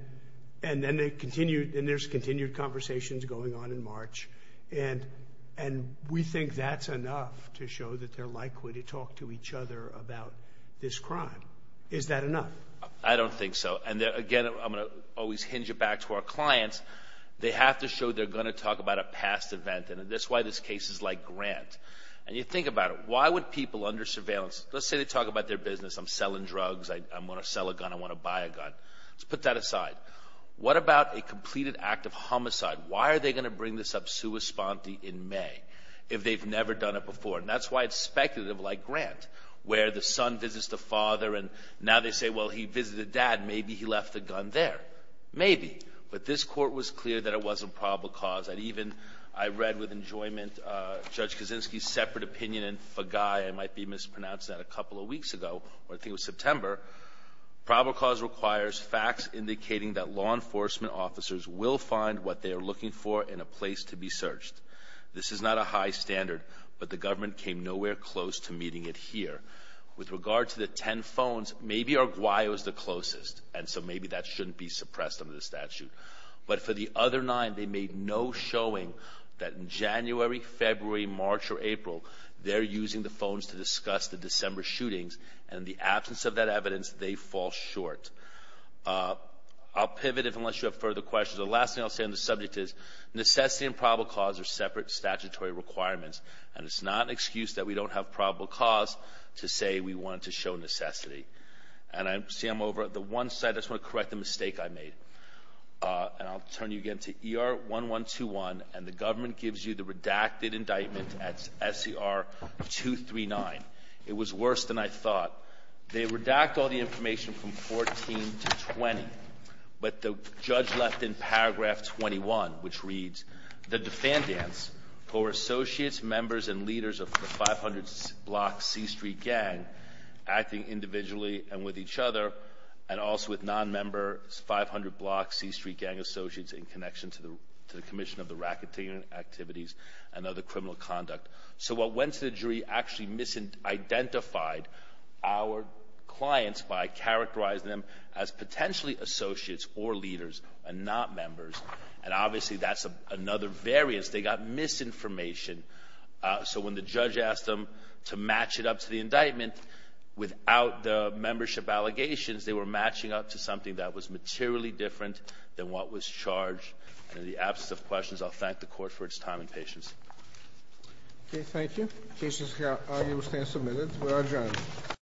And then they continued, and there's continued conversations going on in March. And we think that's enough to show that they're likely to talk to each other about this crime. Is that enough? I don't think so. And, again, I'm going to always hinge it back to our clients. They have to show they're going to talk about a past event, and that's why this case is like Grant. And you think about it. Why would people under surveillance, let's say they talk about their business, I'm selling drugs, I want to sell a gun, I want to buy a gun. Let's put that aside. What about a completed act of homicide? Why are they going to bring this up sua sponte in May if they've never done it before? And that's why it's speculative like Grant, where the son visits the father, and now they say, well, he visited dad. Maybe he left the gun there. Maybe. But this court was clear that it wasn't probable cause. And even I read with enjoyment Judge Kaczynski's separate opinion in Fagai, I might be mispronouncing that, a couple of weeks ago, I think it was September. Probable cause requires facts indicating that law enforcement officers will find what they are looking for in a place to be searched. This is not a high standard, but the government came nowhere close to meeting it here. With regard to the ten phones, maybe Uruguay was the closest, and so maybe that shouldn't be suppressed under the statute. But for the other nine, they made no showing that in January, February, March, or April, they're using the phones to discuss the December shootings, and in the absence of that evidence, they fall short. I'll pivot unless you have further questions. The last thing I'll say on this subject is necessity and probable cause are separate statutory requirements, and it's not an excuse that we don't have probable cause to say we want to show necessity. And I see I'm over at the one side. I just want to correct the mistake I made. And I'll turn you again to ER-1121, and the government gives you the redacted indictment at SCR-239. It was worse than I thought. They redact all the information from 14 to 20, but the judge left in paragraph 21, which reads, the defendants, who are associates, members, and leaders of the 500-block C Street gang, acting individually and with each other, and also with non-member 500-block C Street gang associates in connection to the commission of the racketeering activities and other criminal conduct. So what went to the jury actually misidentified our clients by characterizing them as potentially associates or leaders and not members, and obviously that's another variance. They got misinformation. So when the judge asked them to match it up to the indictment without the membership allegations, they were matching up to something that was materially different than what was charged. And in the absence of questions, I'll thank the Court for its time and patience. Okay. Thank you. Cases can stand submitted. We're adjourned.